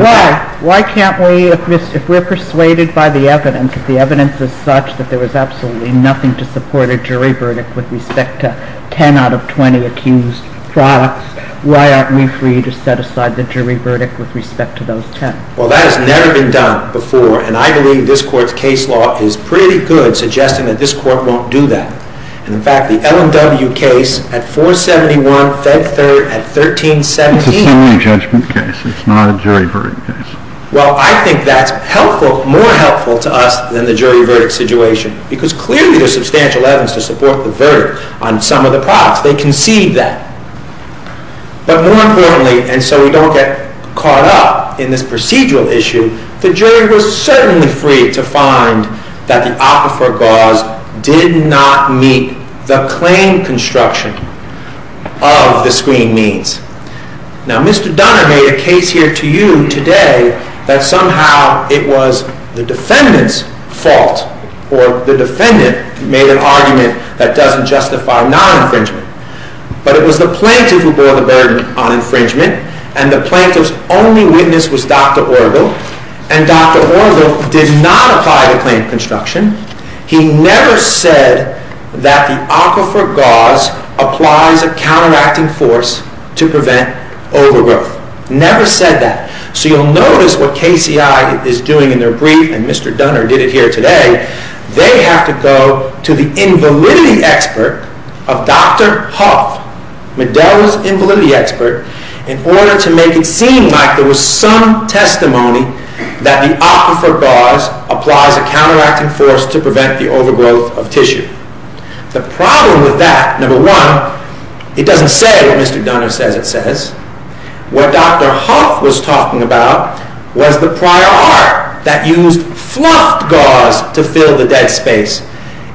why can't we, if we're persuaded by the evidence, because the evidence is such that there was absolutely nothing to support a jury verdict with respect to 10 out of 20 accused products, why aren't we free to set aside the jury verdict with respect to those 10? Well, that has never been done before, and I believe this court's case law is pretty good, suggesting that this court won't do that. In fact, the LMW case at 471 Fed Third at 1317 It's a jury judgment case. It's not a jury verdict case. Well, I think that's helpful, more helpful to us than the jury verdict situation, because clearly there's substantial evidence to support the verdict on some of the products. They can see that. But more importantly, and so we don't get caught up in this procedural issue, the jury was certainly free to find that the Aquaphor cause did not meet the claim construction of the screen means. Now, Mr. Dunner made a case here to you today that somehow it was the defendant's fault, or the defendant made an argument that doesn't justify non-infringement. But it was the plaintiff who bore the burden on infringement, and the plaintiff's only witness was Dr. Orville, and Dr. Orville did not apply the claim construction. He never said that the Aquaphor cause applies a counteracting force to prevent overwork. Never said that. So you'll notice what KCI is doing in their brief, and Mr. Dunner did it here today, they have to go to the invalidity expert of Dr. Hoff, the devil's invalidity expert, in order to make it seem like there was some testimony that the Aquaphor cause applies a counteracting force to prevent the overgrowth of tissue. The problem with that, number one, it doesn't say what Mr. Dunner says it says. What Dr. Hoff was talking about was the prior art that used flopped gauze to fill the dead space.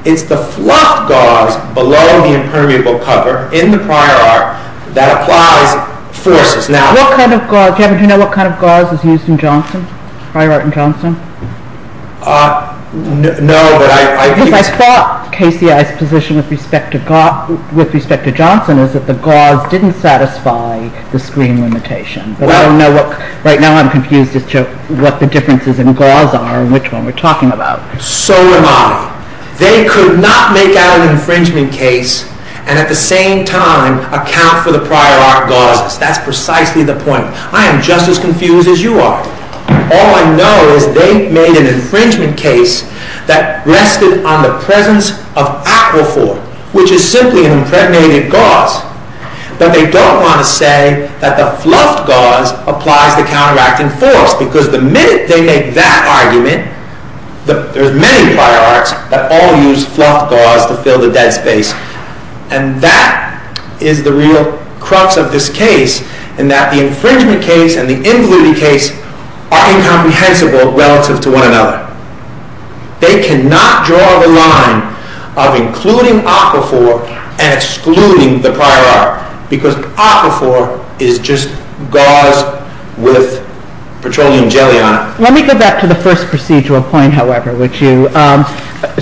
It's the flopped gauze below the impermeable cover in the prior art that applies forces. Do you know what kind of gauze is used in Johnson? Prior art in Johnson? Uh, no. Because I thought KCI's position with respect to Johnson is that the gauze didn't satisfy the screen limitation. But I don't know, right now I'm confused as to what the differences in gauze are and which one we're talking about. So am I. They could not make out an infringement case and at the same time account for the prior art gauze. That's precisely the point. I'm just as confused as you are. All I know is they made an infringement case that rested on the presence of Aquaphor, which is simply an incriminating gauze. But they don't want to say that the flopped gauze applies a counteracting force because the minute they make that argument, there's many prior arts that all use flopped gauze to fill the dead space. And that is the real crux of this case, in that the infringement case and the invalidity case are incomprehensible relative to one another. They cannot draw the line of including Aquaphor and excluding the prior art, because Aquaphor is just gauze with petroleum jelly on it. Let me go back to the first procedural point, however, would you?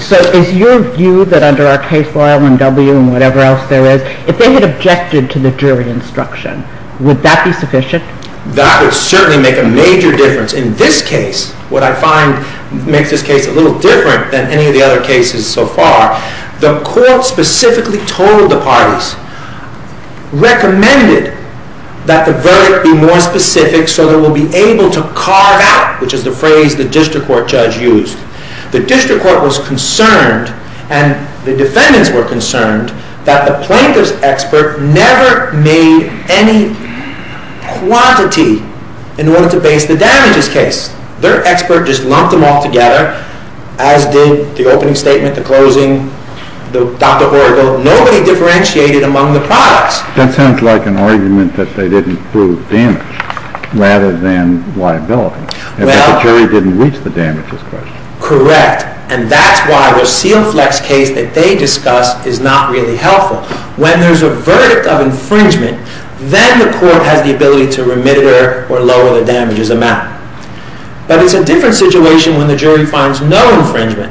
So if you view that under our case law, I mean W and whatever else there is, if they had objected to the jury instruction, would that be sufficient? That would certainly make a major difference. In this case, what I find makes this case a little different than any of the other cases so far, the court specifically told the parties, recommended that the verdict be more specific so it will be able to carve out, which is the phrase the district court judge used, the district court was concerned, and the defendants were concerned, that the plaintiff's expert never made any quantity in order to base the damages case. Their expert just lumped them all together, as did the opening statement, the closing, the Aquaphor, nobody differentiated among the products. That sounds like an argument that they didn't prove damage rather than liability. And the jury didn't reach the damages question. Correct, and that's why the steel flex case that they discussed is not really helpful. When there's a verdict of infringement, then the court has the ability to remit or lower the damages amount. But it's a different situation when the jury finds no infringement,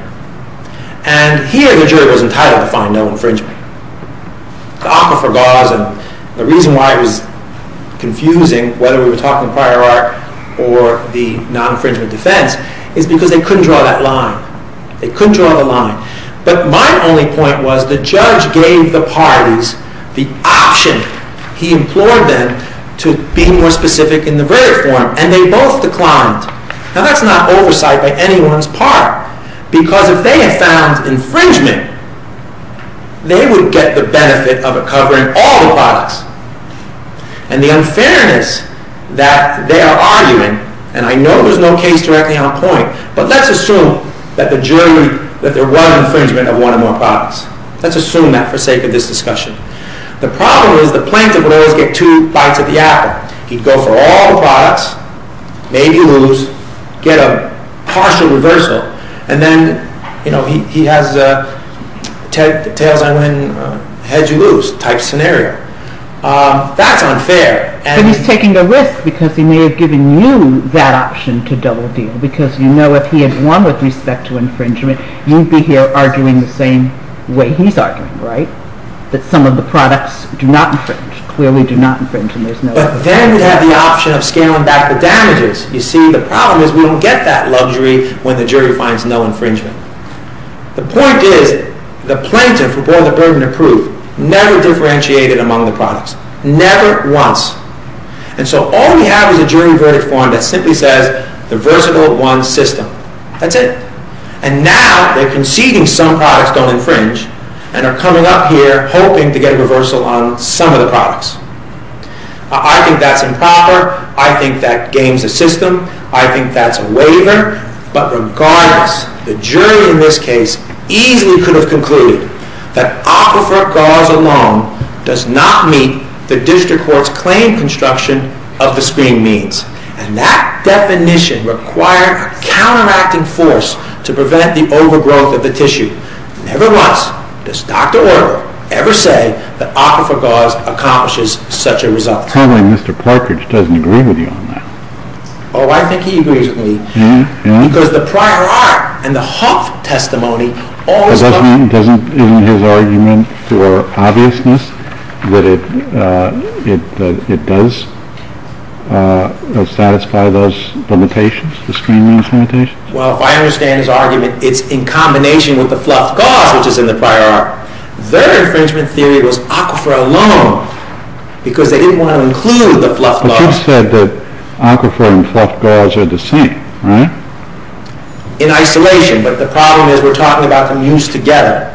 and here the jury is entitled to find no infringement. The Aquaphor cause, and the reason why it was confusing, whether we were talking prior art or the non-infringement defense, is because they couldn't draw that line. They couldn't draw the line. But my only point was the judge gave the parties the option, he implored them to be more specific in the verdict form, and they both declined. Now that's not oversight on anyone's part, because if they had found infringement, they would get the benefit of it covering all the products. And the unfairness that they are arguing, and I know there's no case directly on point, but let's assume that the jury, that there wasn't infringement of one or more products. Let's assume that for sake of this discussion. The problem is the plaintiff would always get two bites of the apple. He'd go for all the products, maybe lose, get a partial reversal, and then he has a tails-on-win, heads-you-lose type scenario. That's unfair. But he's taking a risk because he may have given you that option to double-deal, because you know if he had won with respect to infringement, you'd be here arguing the same way he's arguing, right? That some of the products do not infringe, clearly do not infringe. But then you have the option of scaling back the damages. You see, the problem is we don't get that luxury when the jury finds no infringement. The point is the plaintiff, who bore the burden of proof, never differentiated among the products. Never once. And so all we have is a jury verdict form that simply says, the versatile won system. That's it. And now they're conceding some products don't infringe, and are coming up here hoping to get a reversal on some of the products. I think that's improper. I think that gains the system. I think that's a waiver. But regardless, the jury in this case easily could have concluded that aquifer gauze alone does not meet the district court's claim construction of the screen means. And that definition required counteracting force to prevent the overgrowth of the tissue. Nevertheless, does Dr. Weber ever say that aquifer gauze accomplishes such a result? Apparently Mr. Corkridge doesn't agree with you on that. Oh, I think he agrees with me. Because the prior art and the Hawke testimony all show Does that mean in his argument for obviousness that it does satisfy those limitations, the screen means limitations? Well, if I understand his argument, it's in combination with the fluff gauze, which is in the prior art. Their infringement theory was aquifer alone, because they didn't want to include the fluff gauze. But you said that aquifer and fluff gauze are the same, right? In isolation, but the problem is we're talking about them used together.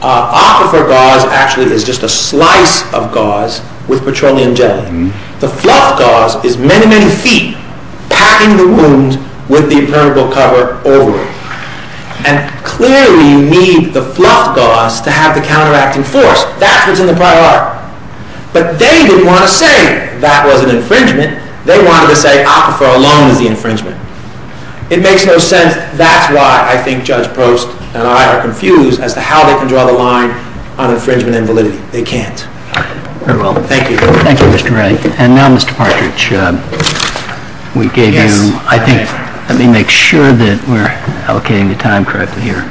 Aquifer gauze actually is just a slice of gauze with petroleum jelly. The fluff gauze is many, many feet, packing the wounds with the ephemeral cover over it. And clearly you need the fluff gauze to have the counteracting force. That is in the prior art. But they didn't want to say that was an infringement. They wanted to say aquifer alone is the infringement. It makes no sense. That's why I think Judge Brooks and I are confused as to how they can draw the line on infringement and belief. They can't. Thank you. Thank you, Mr. Wright. And now, Mr. Partridge, we gave you, I think, let me make sure that we're allocating the time correctly here.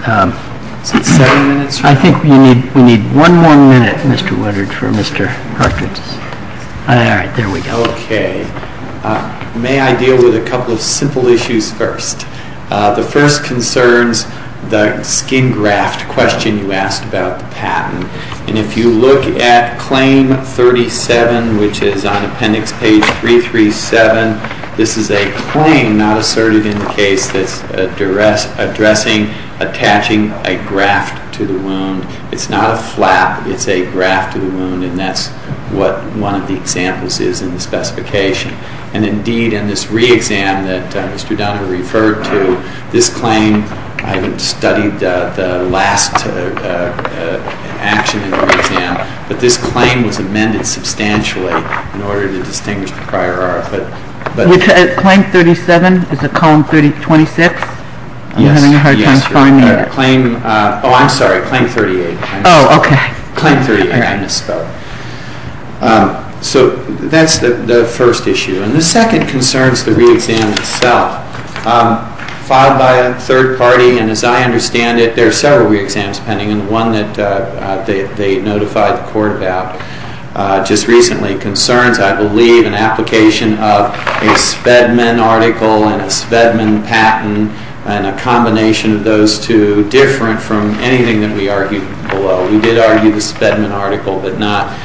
I think we need one more minute, Mr. Woodard, for Mr. Partridge. All right, there we go. Okay. May I deal with a couple simple issues first? The first concerns the skin graft question you asked about patent. And if you look at claim 37, which is on appendix page 337, this is a claim not asserted in the case addressing attaching a graft to the wound. It's not a flap. It's a graft to the wound. And that's what one of the examples is in the specification. And, indeed, in this re-exam that Mr. Dunn referred to, this claim, I studied the last action in the re-exam, but this claim was amended substantially in order to distinguish the prior RFA. Claim 37, is it column 26? I'm having a hard time finding that. Oh, I'm sorry. Claim 38. Oh, okay. Claim 38. So that's the first issue. And the second concerns the re-exam itself. Filed by a third party, and as I understand it, there are several re-exams pending, and the one that they notified the court about just recently concerns, I believe, an application of a Spedman article and a Spedman patent and a combination of those two different from anything that we argued below. We did argue the Spedman article, but not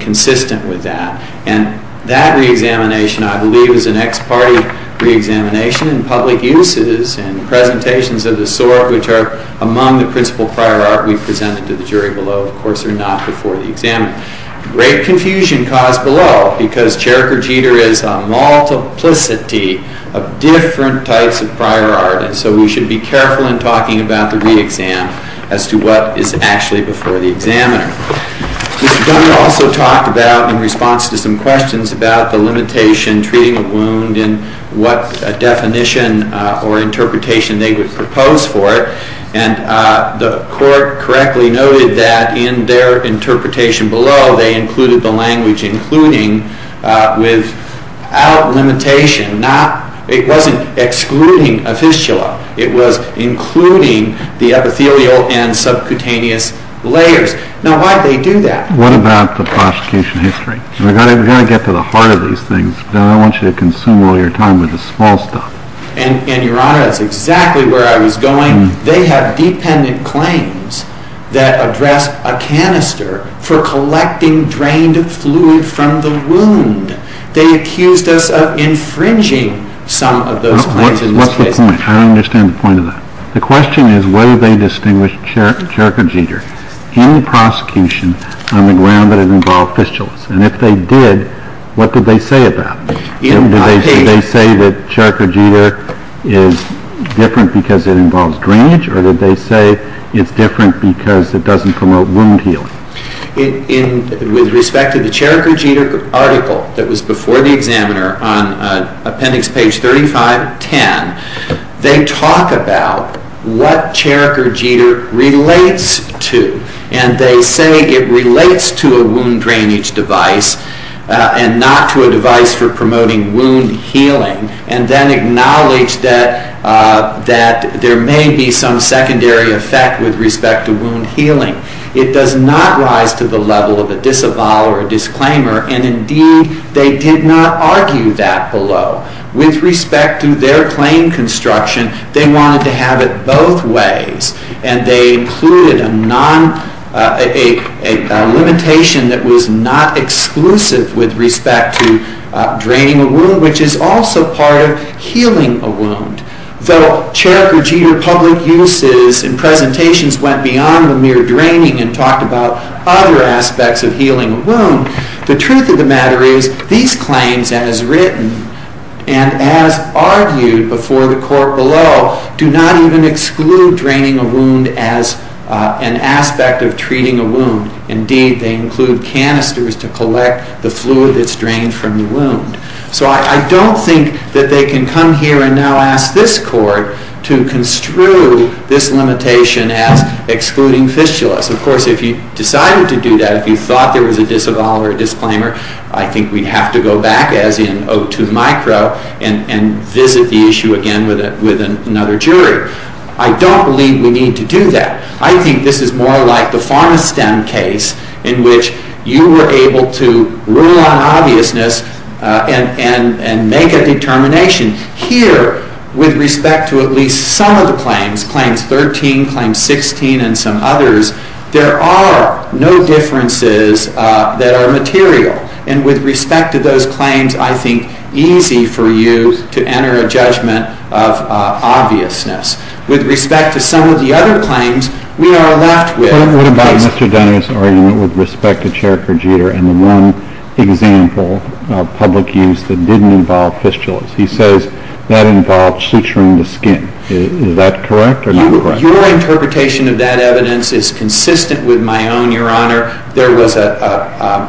consistent with that. And that re-examination, I believe, is an ex-party re-examination in public uses and presentations of the sort which are among the principal prior art we presented to the jury below. Of course, they're not before the exam. Great confusion caused below because Jericho Jeter is a multiplicity of different types of prior art, so we should be careful in talking about the re-exam as to what is actually before the examiner. We also talked about in response to some questions about the limitation treating a wound and what definition or interpretation they would propose for it. And the court correctly noted that in their interpretation below, they included the language including without limitation. It wasn't excluding a fistula. It was including the epithelial and subcutaneous layers. Now, why did they do that? What about the prosecution history? We've got to get to the heart of those things. I don't want you to consume all your time with the small stuff. And you're right. That's exactly where I was going. They have dependent claims that address a canister for collecting drained fluid from the wound. They accused us of infringing some of those claims. What's the point? I don't understand the point of that. The question is whether they distinguished Jericho Jeter in the prosecution on the grounds that it involved fistulas. And if they did, what did they say about it? Did they say that Jericho Jeter is different because it involves drainage, or did they say it's different because it doesn't promote wound healing? With respect to the Jericho Jeter article that was before the examiner on appendix page 3510, they talk about what Jericho Jeter relates to. And they say it relates to a wound drainage device and not to a device for promoting wound healing, and then acknowledge that there may be some secondary effect with respect to wound healing. It does not rise to the level of a disavowal or a disclaimer. And, indeed, they did not argue that below. With respect to their claim construction, they wanted to have it both ways, and they included a limitation that was not exclusive with respect to draining a wound, which is also part of healing a wound. Though Jericho Jeter public uses and presentations went beyond the mere draining and talked about other aspects of healing a wound, the truth of the matter is these claims, as written and as argued before the court below, do not even exclude draining a wound as an aspect of treating a wound. Indeed, they include canisters to collect the fluid that's drained from the wound. So I don't think that they can come here and now ask this court to construe this limitation as excluding fistulas. Of course, if you decided to do that, if you thought there was a disavowal or a disclaimer, I think we'd have to go back, as in O2 micro, and visit the issue again with another jury. I don't believe we need to do that. I think this is more like the Fondestam case in which you were able to rule on obviousness and make a determination. Here, with respect to at least some of the claims, Claim 13, Claim 16, and some others, there are no differences that are material. And with respect to those claims, I think it's easy for you to enter a judgment of obviousness. With respect to some of the other claims, we are left with- I don't know about Mr. Daniels' argument with respect to chair procedure and the one example of public use that didn't involve fistulas. He says that involves suturing the skin. Is that correct or not correct? Your interpretation of that evidence is consistent with my own, Your Honor. There was a-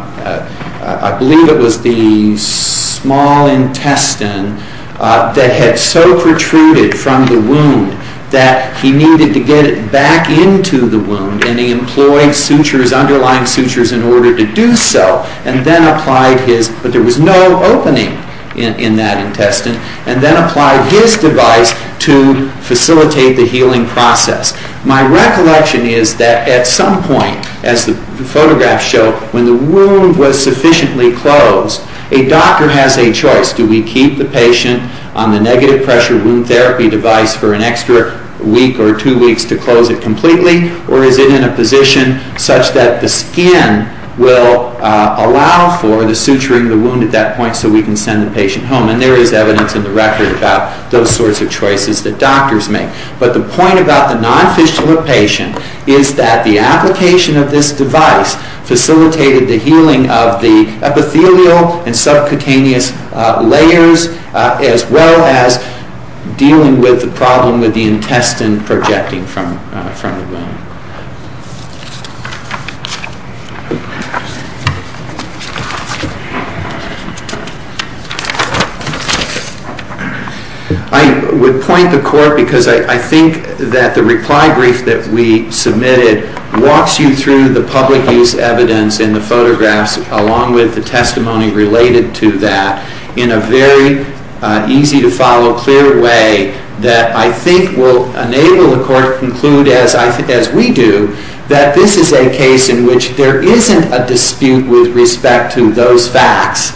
I believe it was the small intestine that had so protruded from the wound that he needed to get it back into the wound, and he employed sutures, underlying sutures, in order to do so, and then applied his- but there was no opening in that intestine- and then applied his device to facilitate the healing process. My recollection is that at some point, as the photographs show, when the wound was sufficiently closed, a doctor has a choice. Do we keep the patient on the negative pressure wound therapy device for an extra week or two weeks to close it completely, or is it in a position such that the skin will allow for the suturing the wound at that point so we can send the patient home? And there is evidence in the record about those sorts of choices that doctors make. But the point about the non-fistula patient is that the application of this device facilitated the healing of the epithelial and subcutaneous layers as well as dealing with the problem with the intestine projecting from the wound. I would point the court, because I think that the reply brief that we submitted walks you through the public use evidence in the photographs along with the testimony related to that in a very easy-to-follow, clear way that I think will enable the court to conclude, as we do, that this is a case in which there isn't a dispute with respect to those facts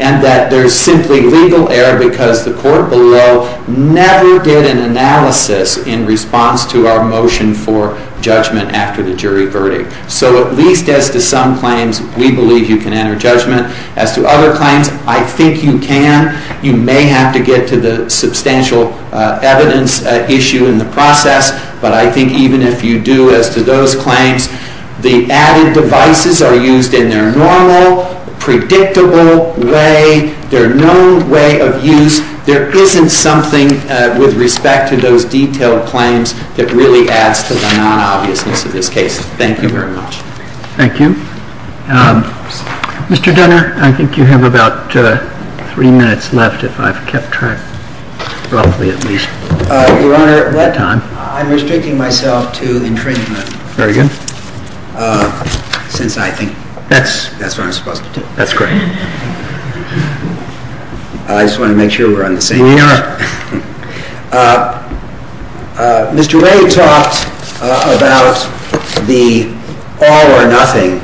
and that there is simply legal error because the court below never did an analysis in response to our motion for judgment after the jury verdict. So at least as to some claims, we believe you can enter judgment. As to other claims, I think you can. You may have to get to the substantial evidence issue in the process, but I think even if you do as to those claims, the added devices are used in their normal, predictable way. There are no way of use. There isn't something with respect to those detailed claims that really adds to the non-obviousness of this case. Thank you very much. Thank you. Mr. Denner, I think you have about three minutes left, if I've kept track. Probably at least. Your Honor, at that time, I'm restricting myself to infringement. Very good. Since I think that's what I'm supposed to do. That's correct. I just wanted to make sure we're on the same page. We are. Mr. Ray talked about the all-or-nothing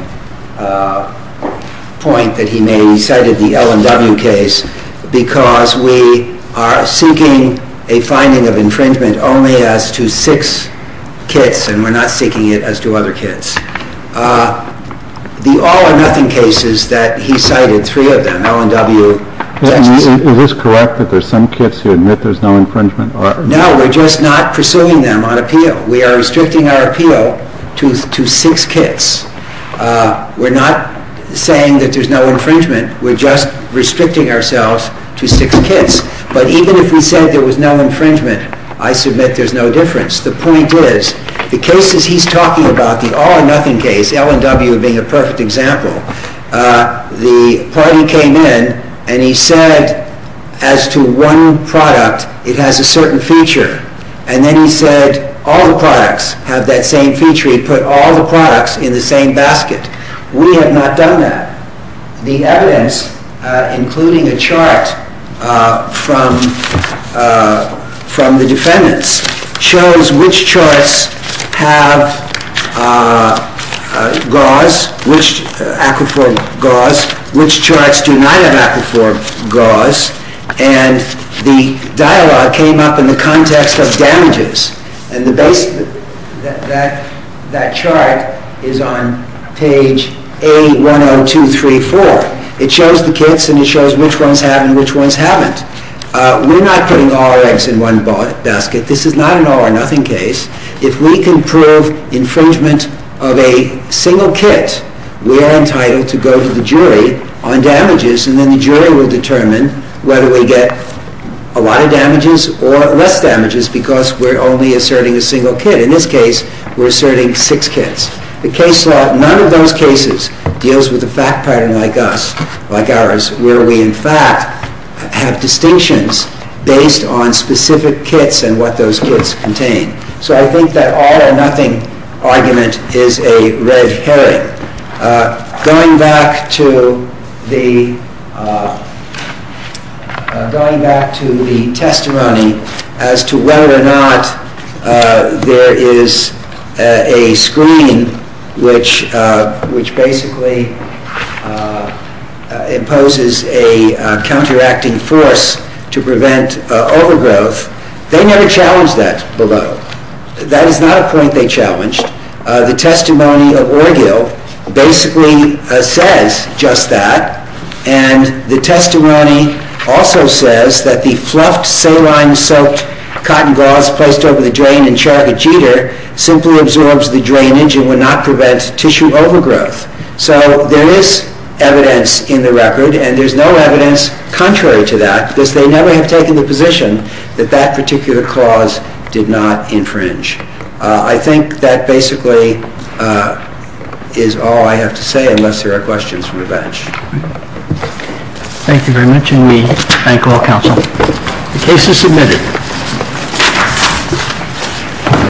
point that he made when he cited the L&W case because we are seeking a finding of infringement only as to six kits, and we're not seeking it as to other kits. The all-or-nothing cases that he cited, three of them, L&W, Is this correct that there's some kits you admit there's no infringement? No, we're just not pursuing them on appeal. We are restricting our appeal to six kits. We're not saying that there's no infringement. We're just restricting ourselves to six kits. But even if we said there was no infringement, I submit there's no difference. The point is, the cases he's talking about, the all-or-nothing case, L&W being a perfect example, the party came in and he said as to one product it has a certain feature, and then he said all the products have that same feature. He put all the products in the same basket. We have not done that. The evidence, including a chart from the defendants, shows which charts have GAUs, which charts do not have GAUs, and the dialogue came up in the context of damages, and that chart is on page A10234. It shows the kits and it shows which ones have and which ones haven't. We're not putting all our eggs in one basket. This is not an all-or-nothing case. If we can prove infringement of a single kit, we are entitled to go to the jury on damages, and then the jury will determine whether we get a lot of damages or less damages because we're only asserting a single kit. In this case, we're asserting six kits. None of those cases deals with a fact pattern like ours, where we, in fact, have distinctions based on specific kits and what those kits contain. So I think that all-or-nothing argument is a red herring. Going back to the testimony as to whether or not there is a screen which basically imposes a counteracting force to prevent overgrowth, they never challenged that below. That is not a point they challenged. The testimony of Orgill basically says just that, and the testimony also says that the fluffed, saline-soaked cotton gauze placed over the drain in Charlotte Jeter simply absorbs the drainage and would not prevent tissue overgrowth. So there is evidence in the record, and there's no evidence contrary to that because they never have taken the position that that particular gauze did not infringe. I think that basically is all I have to say unless there are questions from the bench. Thank you very much, and we thank all counsel. The case is submitted.